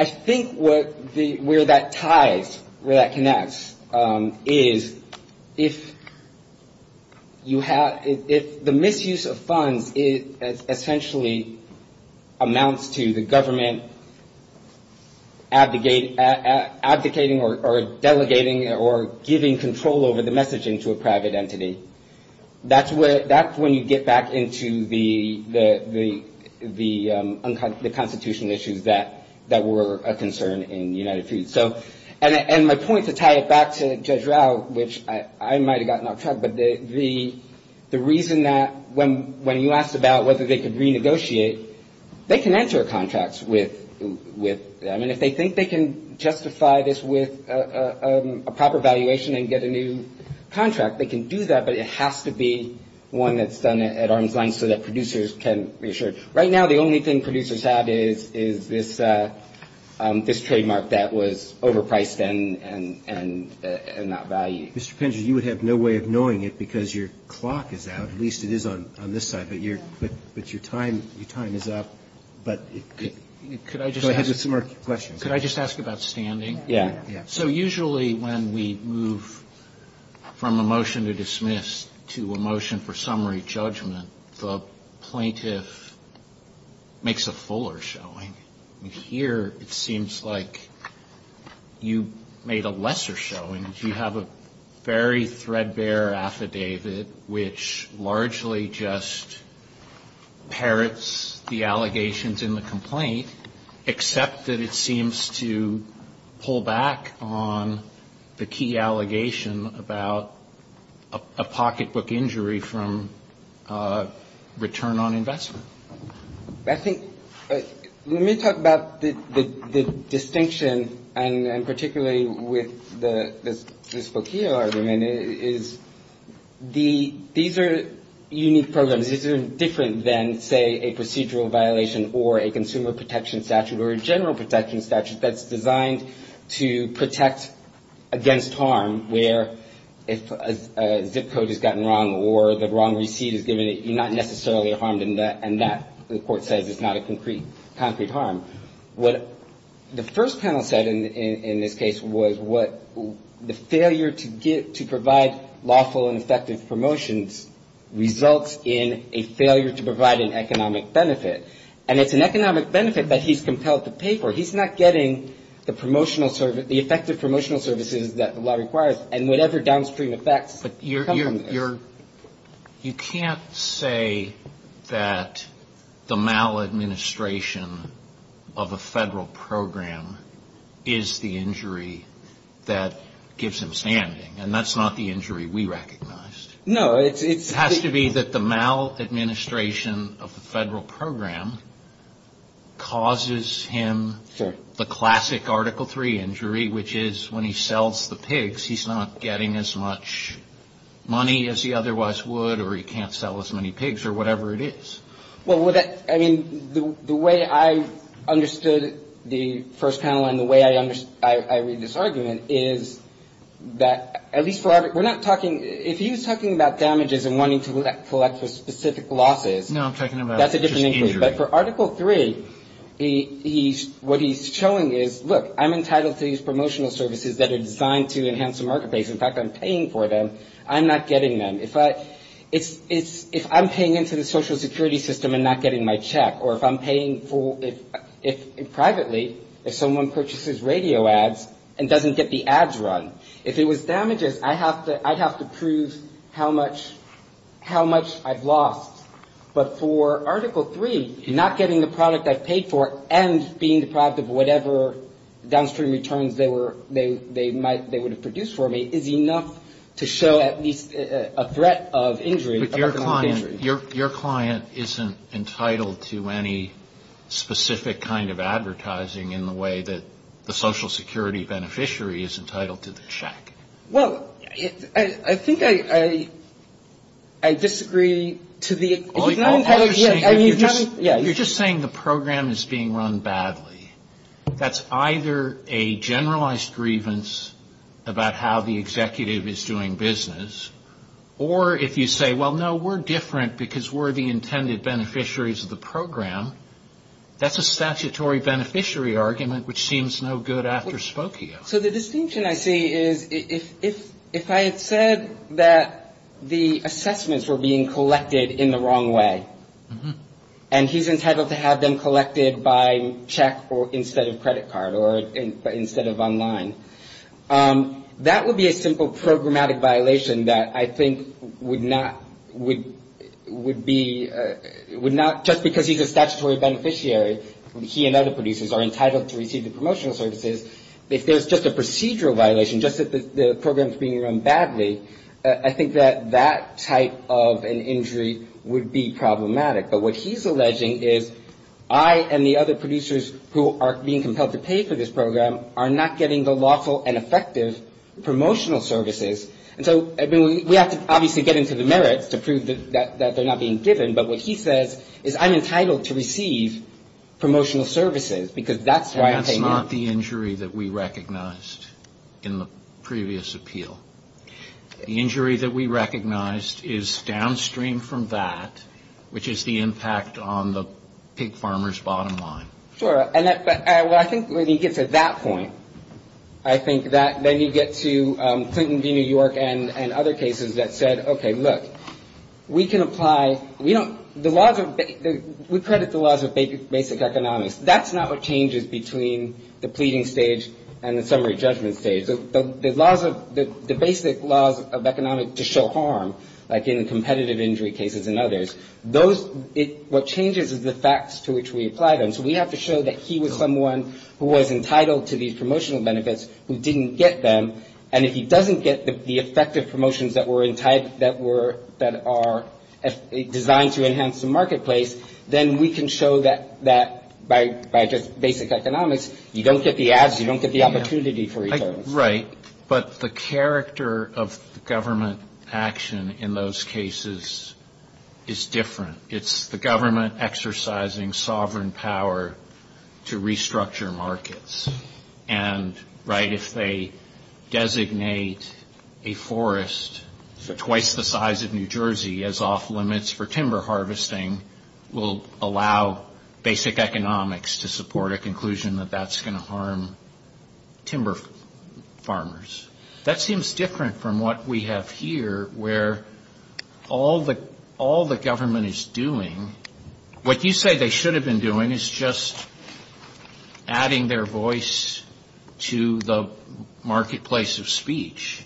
think where that ties, where that connects, is if the misuse of funds essentially amounts to the government advocating or delegating or giving control over the messaging to a private entity, that's when you get back into the constitutional issues that were a concern in the United Foods. My point to tie it back to Judge Rao, which I might have gotten off track, but the reason that when you asked about whether they could renegotiate, they can enter contracts with... I mean, if they think they can justify this with a proper valuation and get a new contract, they can do that, but it has to be one that's done at arm's length so that producers can be assured. Right now, the only thing producers have is this trademark that was overpriced and not valued. Mr. Penger, you would have no way of knowing it because your clock is out, at least it is on this side, but your time is up. Could I just ask about standing? So usually when we move from a motion to dismiss to a motion for summary judgment, the plaintiff makes a fuller showing. Here, it seems like you made a lesser showing. You have a very threadbare affidavit, which largely just parrots the allegations in the complaint, except that it seems to pull back on the key allegation about a pocketbook injury from return on investment. I think... Let me talk about the distinction, and particularly with this Fokio argument, is these are unique programs. These are different than, say, a procedural violation or a consumer protection statute or a general protection statute that's designed to protect against harm where if a zip code has gotten wrong or the wrong receipt is given, you're not necessarily harmed in that, and that, the court says, is not a concrete harm. What the first panel said in this case was the failure to provide lawful and effective promotions results in a failure to provide an economic benefit, and it's an economic benefit that he's compelled to pay for. He's not getting the effective promotional services that the law requires and whatever downstream effects that come from that. You can't say that the maladministration of a federal program is the injury that gives him standing, and that's not the injury we recognized. No, it's... It has to be that the maladministration of the federal program causes him the classic Article III injury, which is when he sells the pigs, he's not getting as much money as he otherwise would or he can't sell as many pigs or whatever it is. Well, I mean, the way I understood the first panel and the way I read this argument is that at least we're not talking... If he was talking about damages and wanting to collect the specific losses... No, I'm talking about... That's a different issue, but for Article III, what he's showing is, look, I'm entitled to these promotional services that are designed to enhance the market base. In fact, I'm paying for them. I'm not getting them. If I'm paying into the social security system and not getting my check, or if I'm paying for it privately, if someone purchases radio ads and doesn't get the ads run, if it was damages, I'd have to prove how much I've lost. But for Article III, not getting the product I've paid for and being deprived of whatever downstream returns they would have produced for me is enough to show at least a threat of injury. But your client isn't entitled to any specific kind of advertising in the way that the social security beneficiary is entitled to the check. Well, I think I disagree to the... You're just saying the program is being run badly. That's either a generalized grievance about how the executive is doing business, or if you say, well, no, we're different because we're the intended beneficiaries of the program, that's a statutory beneficiary argument, which seems no good after Spokio. So the distinction I see is if I had said that the assessments were being collected in the wrong way, and he's entitled to have them collected by check instead of credit card, or instead of online, that would be a simple programmatic violation that I think would not... would not, just because he's a statutory beneficiary, he and other producers are entitled to receive the promotional services, if there's just a procedural violation, just that the program is being run badly, I think that that type of an injury would be problematic. But what he's alleging is I and the other producers who are being compelled to pay for this program are not getting the lawful and effective promotional services. And so we have to obviously get into the merits to prove that they're not being given, but what he says is I'm entitled to receive promotional services because that's why I'm paying. That is not the injury that we recognized in the previous appeal. The injury that we recognized is downstream from that, which is the impact on the pig farmers' bottom line. Sure, and I think when he gets to that point, I think that then he gets to Clinton v. New York and other cases that said, okay, look, we can apply... we don't... the laws of... we credit the laws of basic economics. That's not what changes between the pleading stage and the summary judgment stage. The laws of... the basic laws of economics to show harm, like in the competitive injury cases and others, those... what changes is the facts to which we apply them. So we have to show that he was someone who was entitled to these promotional benefits who didn't get them, and if he doesn't get the effective promotions that were... that are designed to enhance the marketplace, then we can show that by just basic economics, you don't get the ads, you don't get the opportunity for returns. Right, but the character of government action in those cases is different. It's the government exercising sovereign power to restructure markets. And, right, if they designate a forest twice the size of New Jersey as off-limits for timber harvesting, will allow basic economics to support a conclusion that that's going to harm timber farmers. That seems different from what we have here, where all the government is doing... What you say they should have been doing is just adding their voice to the marketplace of speech.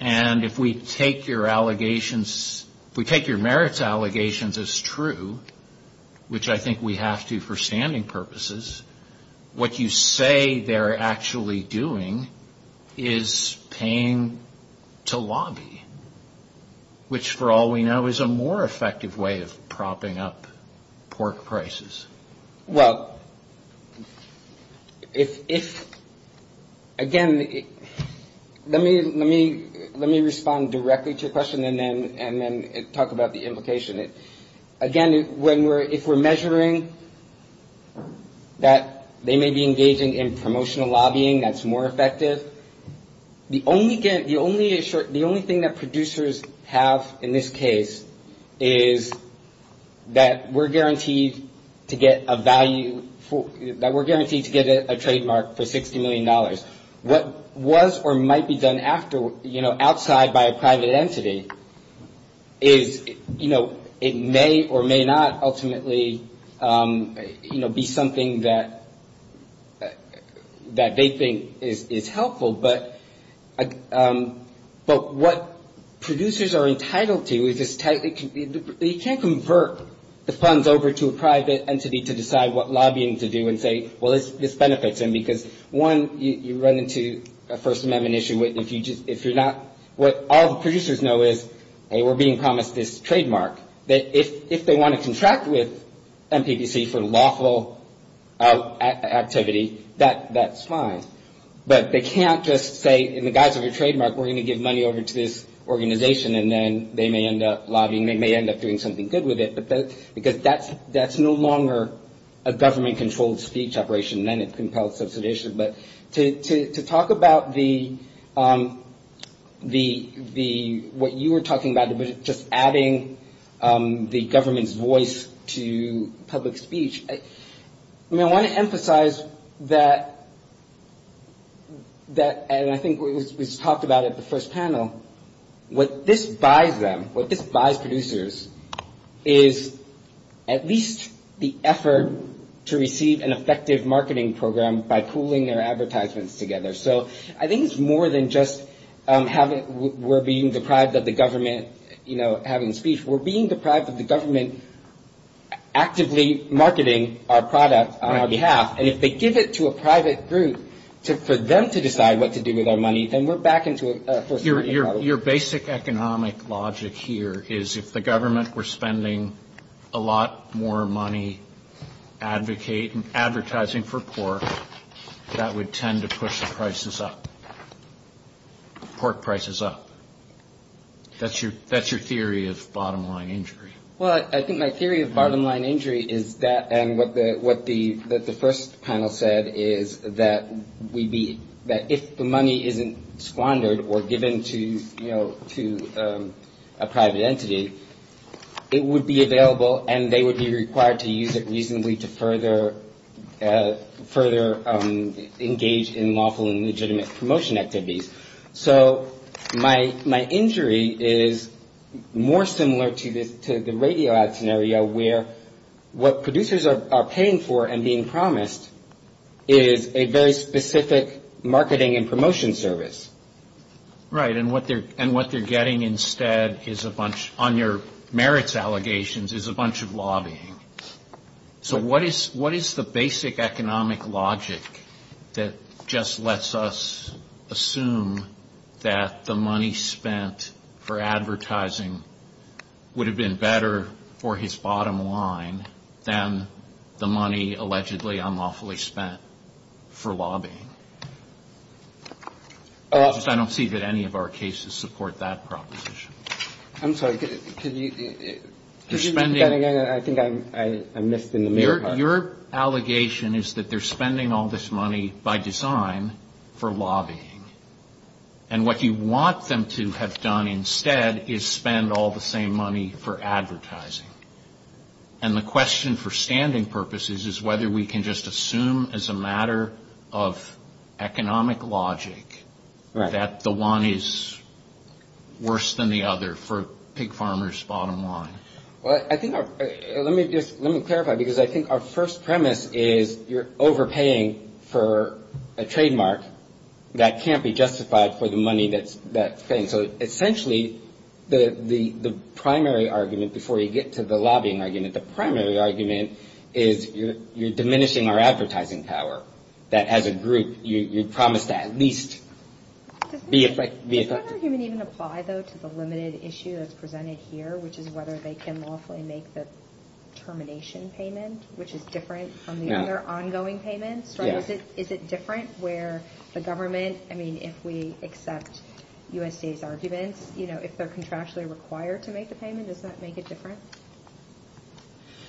And if we take your allegations... if we take your merits allegations as true, which I think we have to for standing purposes, what you say they're actually doing is paying to lobby, which for all we know is a more effective way of propping up pork prices. Well, again, let me respond directly to the question and then talk about the implication. Again, if we're measuring that they may be engaging in promotional lobbying that's more effective, the only thing that producers have in this case is that we're guaranteed to get a value... that we're guaranteed to get a trademark for $60 million. What was or might be done after, you know, outside by a private entity is, you know, it may or may not ultimately, you know, be something that they think is helpful, but what producers are entitled to is this... you can't convert the funds over to a private entity to decide what lobbying to do and say, well, this benefits them because, one, you run into a First Amendment issue. What all the producers know is, hey, we're being promised this trademark, but if they want to contract with MPPC for lawful activity, that's fine, but they can't just say in the guise of a trademark we're going to give money over to this organization and then they may end up lobbying, they may end up doing something good with it, because that's no longer a government-controlled speech operation and then it compels such an issue. But to talk about the... what you were talking about, just adding the government's voice to public speech, I mean, I want to emphasize that... and I think we've talked about it at the first panel, what this buys them, what this buys producers is at least the effort to receive an effective marketing program by pooling their advertisements together. So I think it's more than just we're being deprived of the government having a speech. We're being deprived of the government actively marketing our product on our behalf, and if they give it to a private group for them to decide what to do with our money, Your basic economic logic here is if the government were spending a lot more money advertising for pork, that would tend to push the prices up. Pork prices up. That's your theory of bottom line injury. Well, I think my theory of bottom line injury is that... what the first panel said is that if the money isn't squandered or given to a private entity, it would be available and they would be required to use it reasonably to further engage in lawful and legitimate promotion activities. So my injury is more similar to the radio ad scenario where what producers are paying for and being promised is a very specific marketing and promotion service. Right, and what they're getting instead on their merits allegations is a bunch of lobbying. So what is the basic economic logic that just lets us assume that the money spent for advertising would have been better for his bottom line than the money allegedly unlawfully spent for lobbying? Because I don't see that any of our cases support that proposition. I'm sorry, could you repeat that again? I think I missed it. Your allegation is that they're spending all this money by design for lobbying. And what you want them to have done instead is spend all the same money for advertising. And the question for standing purposes is whether we can just assume as a matter of economic logic that the one is worse than the other for pig farmers' bottom line. Well, let me clarify because I think our first premise is you're overpaying for a trademark that can't be justified for the money that's spent. So essentially the primary argument before you get to the lobbying argument, the primary argument is you're diminishing our advertising power. That as a group, you promise to at least be effective. Does that argument even apply, though, to the limited issue that's presented here, which is whether they can lawfully make the termination payment, which is different from the other ongoing payments? Is it different where the government, I mean, if we accept USDA's argument, if they're contractually required to make the payment, does that make a difference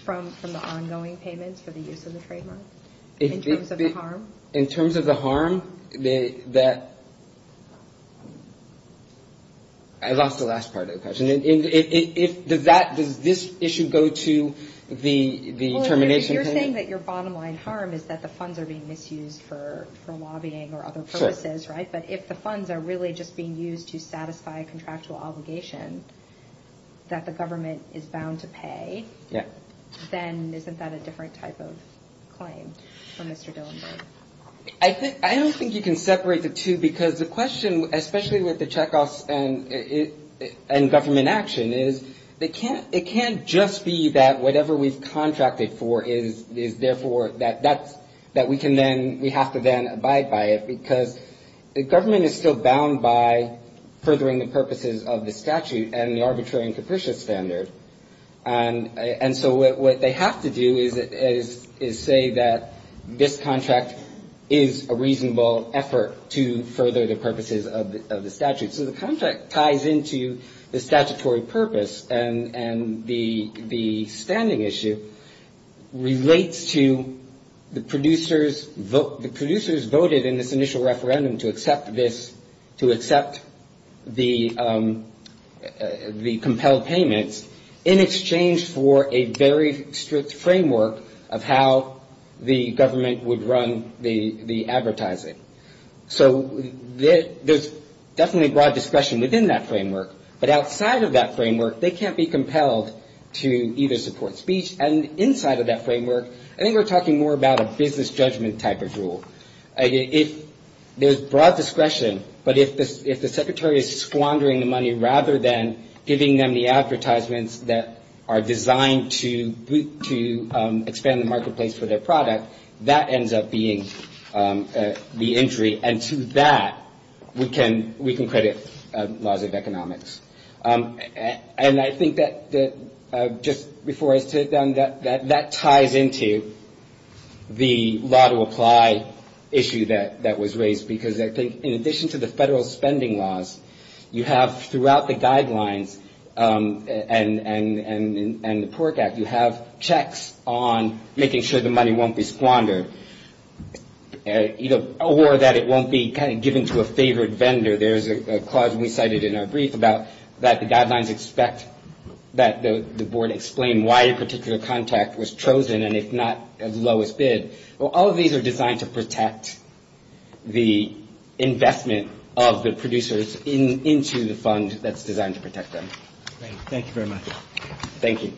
from the ongoing payments for the use of the trademark? In terms of the harm? In terms of the harm, I lost the last part of the question. Does this issue go to the termination payment? You're saying that your bottom line harm is that the funds are being misused for lobbying or other purposes, right? But if the funds are really just being used to satisfy contractual obligations that the government is bound to pay, then isn't that a different type of claim from what you're dealing with? I don't think you can separate the two because the question, especially with the checkoffs and government action, is it can't just be that whatever we've contracted for is therefore that we have to then abide by it because the government is still bound by furthering the purposes of the statute and the arbitrary and capricious standard. And so what they have to do is say that this contract is a reasonable effort to further the purposes of the statute. So the contract ties into the statutory purpose and the standing issue relates to the producers' vote. It's imperative in this initial referendum to accept this, to accept the compelled payments in exchange for a very strict framework of how the government would run the advertising. So there's definitely a broad discussion within that framework, but outside of that framework they can't be compelled to either support speech and inside of that framework, I think we're talking more about a business judgment type of rule. There's broad discretion, but if the secretary is squandering the money rather than giving them the advertisements that are designed to expand the marketplace for their product, that ends up being the entry and to that we can credit laws of economics. And I think that just before I sit down, that ties into the law to apply issue that was raised because I think in addition to the federal spending laws, you have throughout the guidelines and the Port Act, you have checks on making sure the money won't be squandered or that it won't be given to a favored vendor. There's a clause we cited in our brief about that the guidelines expect that the board explain why a particular contract was chosen and if not, as lowest bid. Well, all of these are designed to protect the investment of the producers into the fund that's designed to protect them. Thank you very much. Thank you.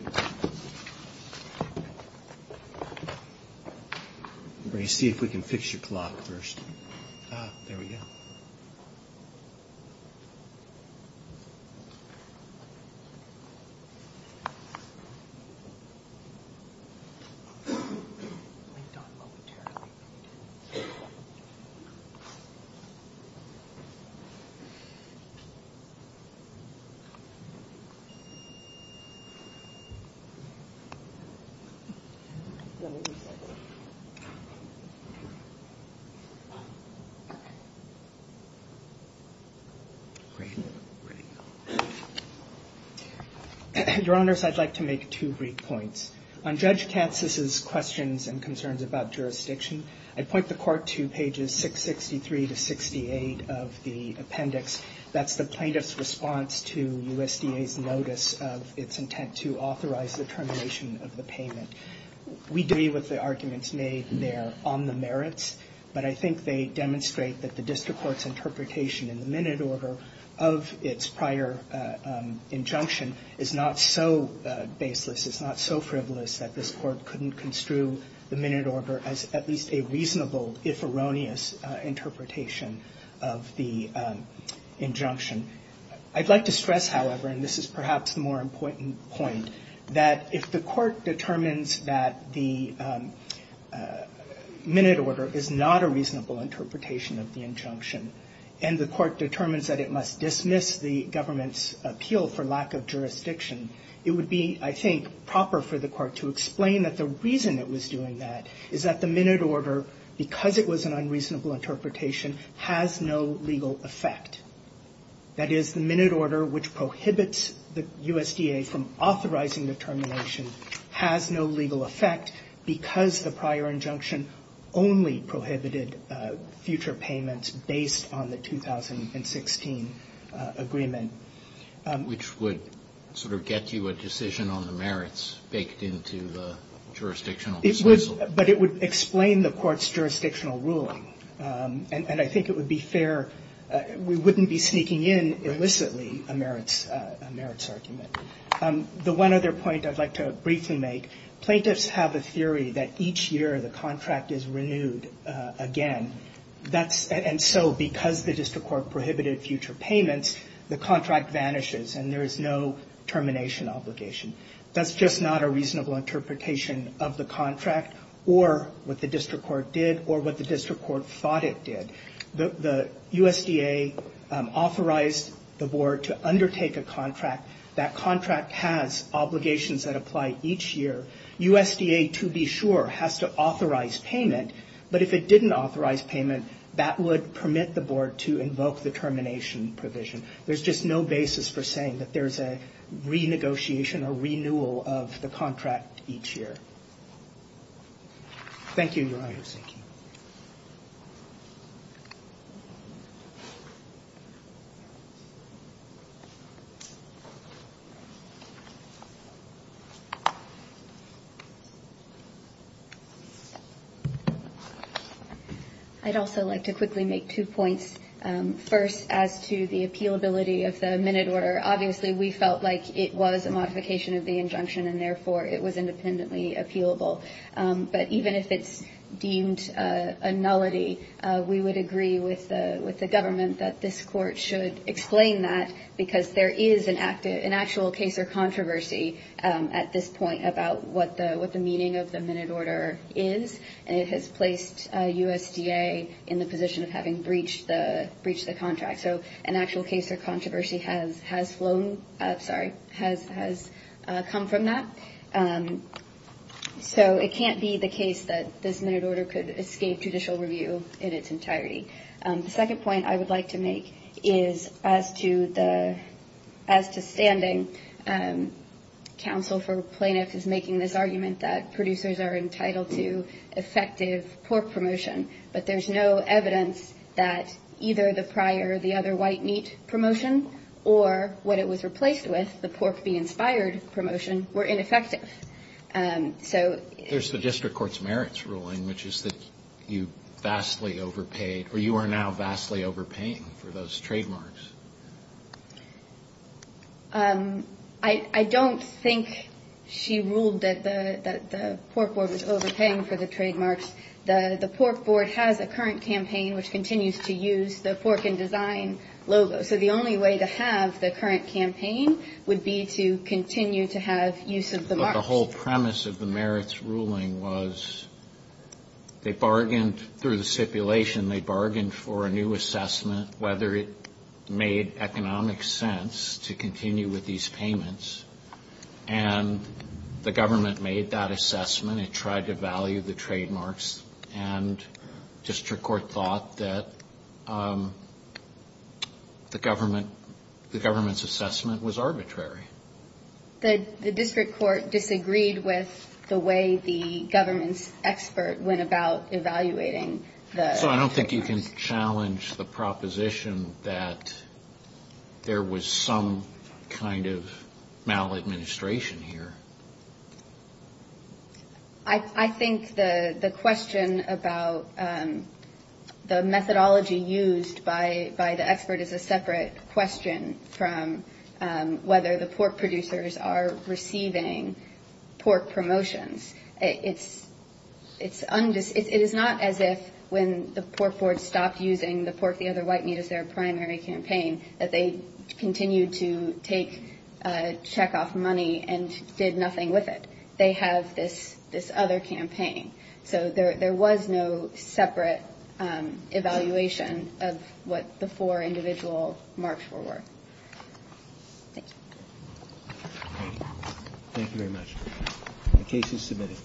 Let me see if we can fix your clock first. There we go. Your Honors, I'd like to make two brief points. On Judge Katz's questions and concerns about jurisdiction, I point the court to pages 663 to 68 of the appendix. That's the plaintiff's response to USDA's notice of its intent to authorize the termination of the payment. We agree with the arguments made there on the merits, but I think they demonstrate that the district court's interpretation in the minute order of its prior injunction is not so baseless. It's not so frivolous that this court couldn't construe the minute order as at least a reasonable, if erroneous, interpretation of the injunction. I'd like to stress, however, and this is perhaps a more important point, that if the court determines that the minute order is not a reasonable interpretation of the injunction, and the court determines that it must dismiss the government's appeal for lack of jurisdiction, it would be, I think, proper for the court to explain that the reason it was doing that is that the minute order, because it was an unreasonable interpretation, has no legal effect. That is, the minute order which prohibits the USDA from authorizing the termination has no legal effect because the prior injunction only prohibited future payments based on the 2016 agreement. Which would sort of get you a decision on the merits baked into the jurisdictional disposal. But it would explain the court's jurisdictional ruling. And I think it would be fair. We wouldn't be sneaking in, illicitly, a merits argument. The one other point I'd like to briefly make. Plaintiffs have a theory that each year the contract is renewed again. And so, because the district court prohibited future payments, the contract vanishes, and there is no termination obligation. That's just not a reasonable interpretation of the contract, or what the district court did, or what the district court thought it did. The USDA authorized the board to undertake a contract. That contract has obligations that apply each year. USDA, to be sure, has to authorize payment. But if it didn't authorize payment, that would permit the board to invoke the termination provision. There's just no basis for saying that there's a renegotiation or renewal of the contract each year. Thank you, your honors. Thank you. Thank you. I'd also like to quickly make two points. First, as to the appealability of the amended order, obviously we felt like it was a modification of the injunction, and therefore it was independently appealable. But even if it's deemed a nullity, we would agree with the government that this court should explain that, because there is an actual case or controversy at this point about what the meaning of the amended order is. And it has placed USDA in the position of having breached the contract. So an actual case or controversy has flown up, sorry, has come from that. So it can't be the case that this amended order could escape judicial review in its entirety. The second point I would like to make is as to standing, counsel for plaintiffs is making this argument that producers are entitled to effective pork promotion, but there's no evidence that either the prior, the other white meat promotion, or what it was replaced with, the pork be inspired promotion, were ineffective. There's the district court's merits ruling, which is that you vastly overpaid, or you are now vastly overpaying for those trademarks. I don't think she ruled that the pork board was overpaying for the trademarks. The pork board has a current campaign which continues to use the pork in design logo. So the only way to have the current campaign would be to continue to have use of the mark. But the whole premise of the merits ruling was they bargained through the stipulation. They bargained for a new assessment, whether it made economic sense to continue with these payments. And the government made that assessment and tried to value the trademarks. And district court thought that the government's assessment was arbitrary. The district court disagreed with the way the government's expert went about evaluating the- So I don't think you can challenge the proposition that there was some kind of maladministration here. I think the question about the methodology used by the expert is a separate question from whether the pork producers are receiving pork promotions. It is not as if when the pork board stopped using the pork, the other white meat as their primary campaign, that they continued to take a check off money and did nothing with it. They have this other campaign. So there was no separate evaluation of what the four individual marks were worth. Thank you. Thank you very much. The case is submitted.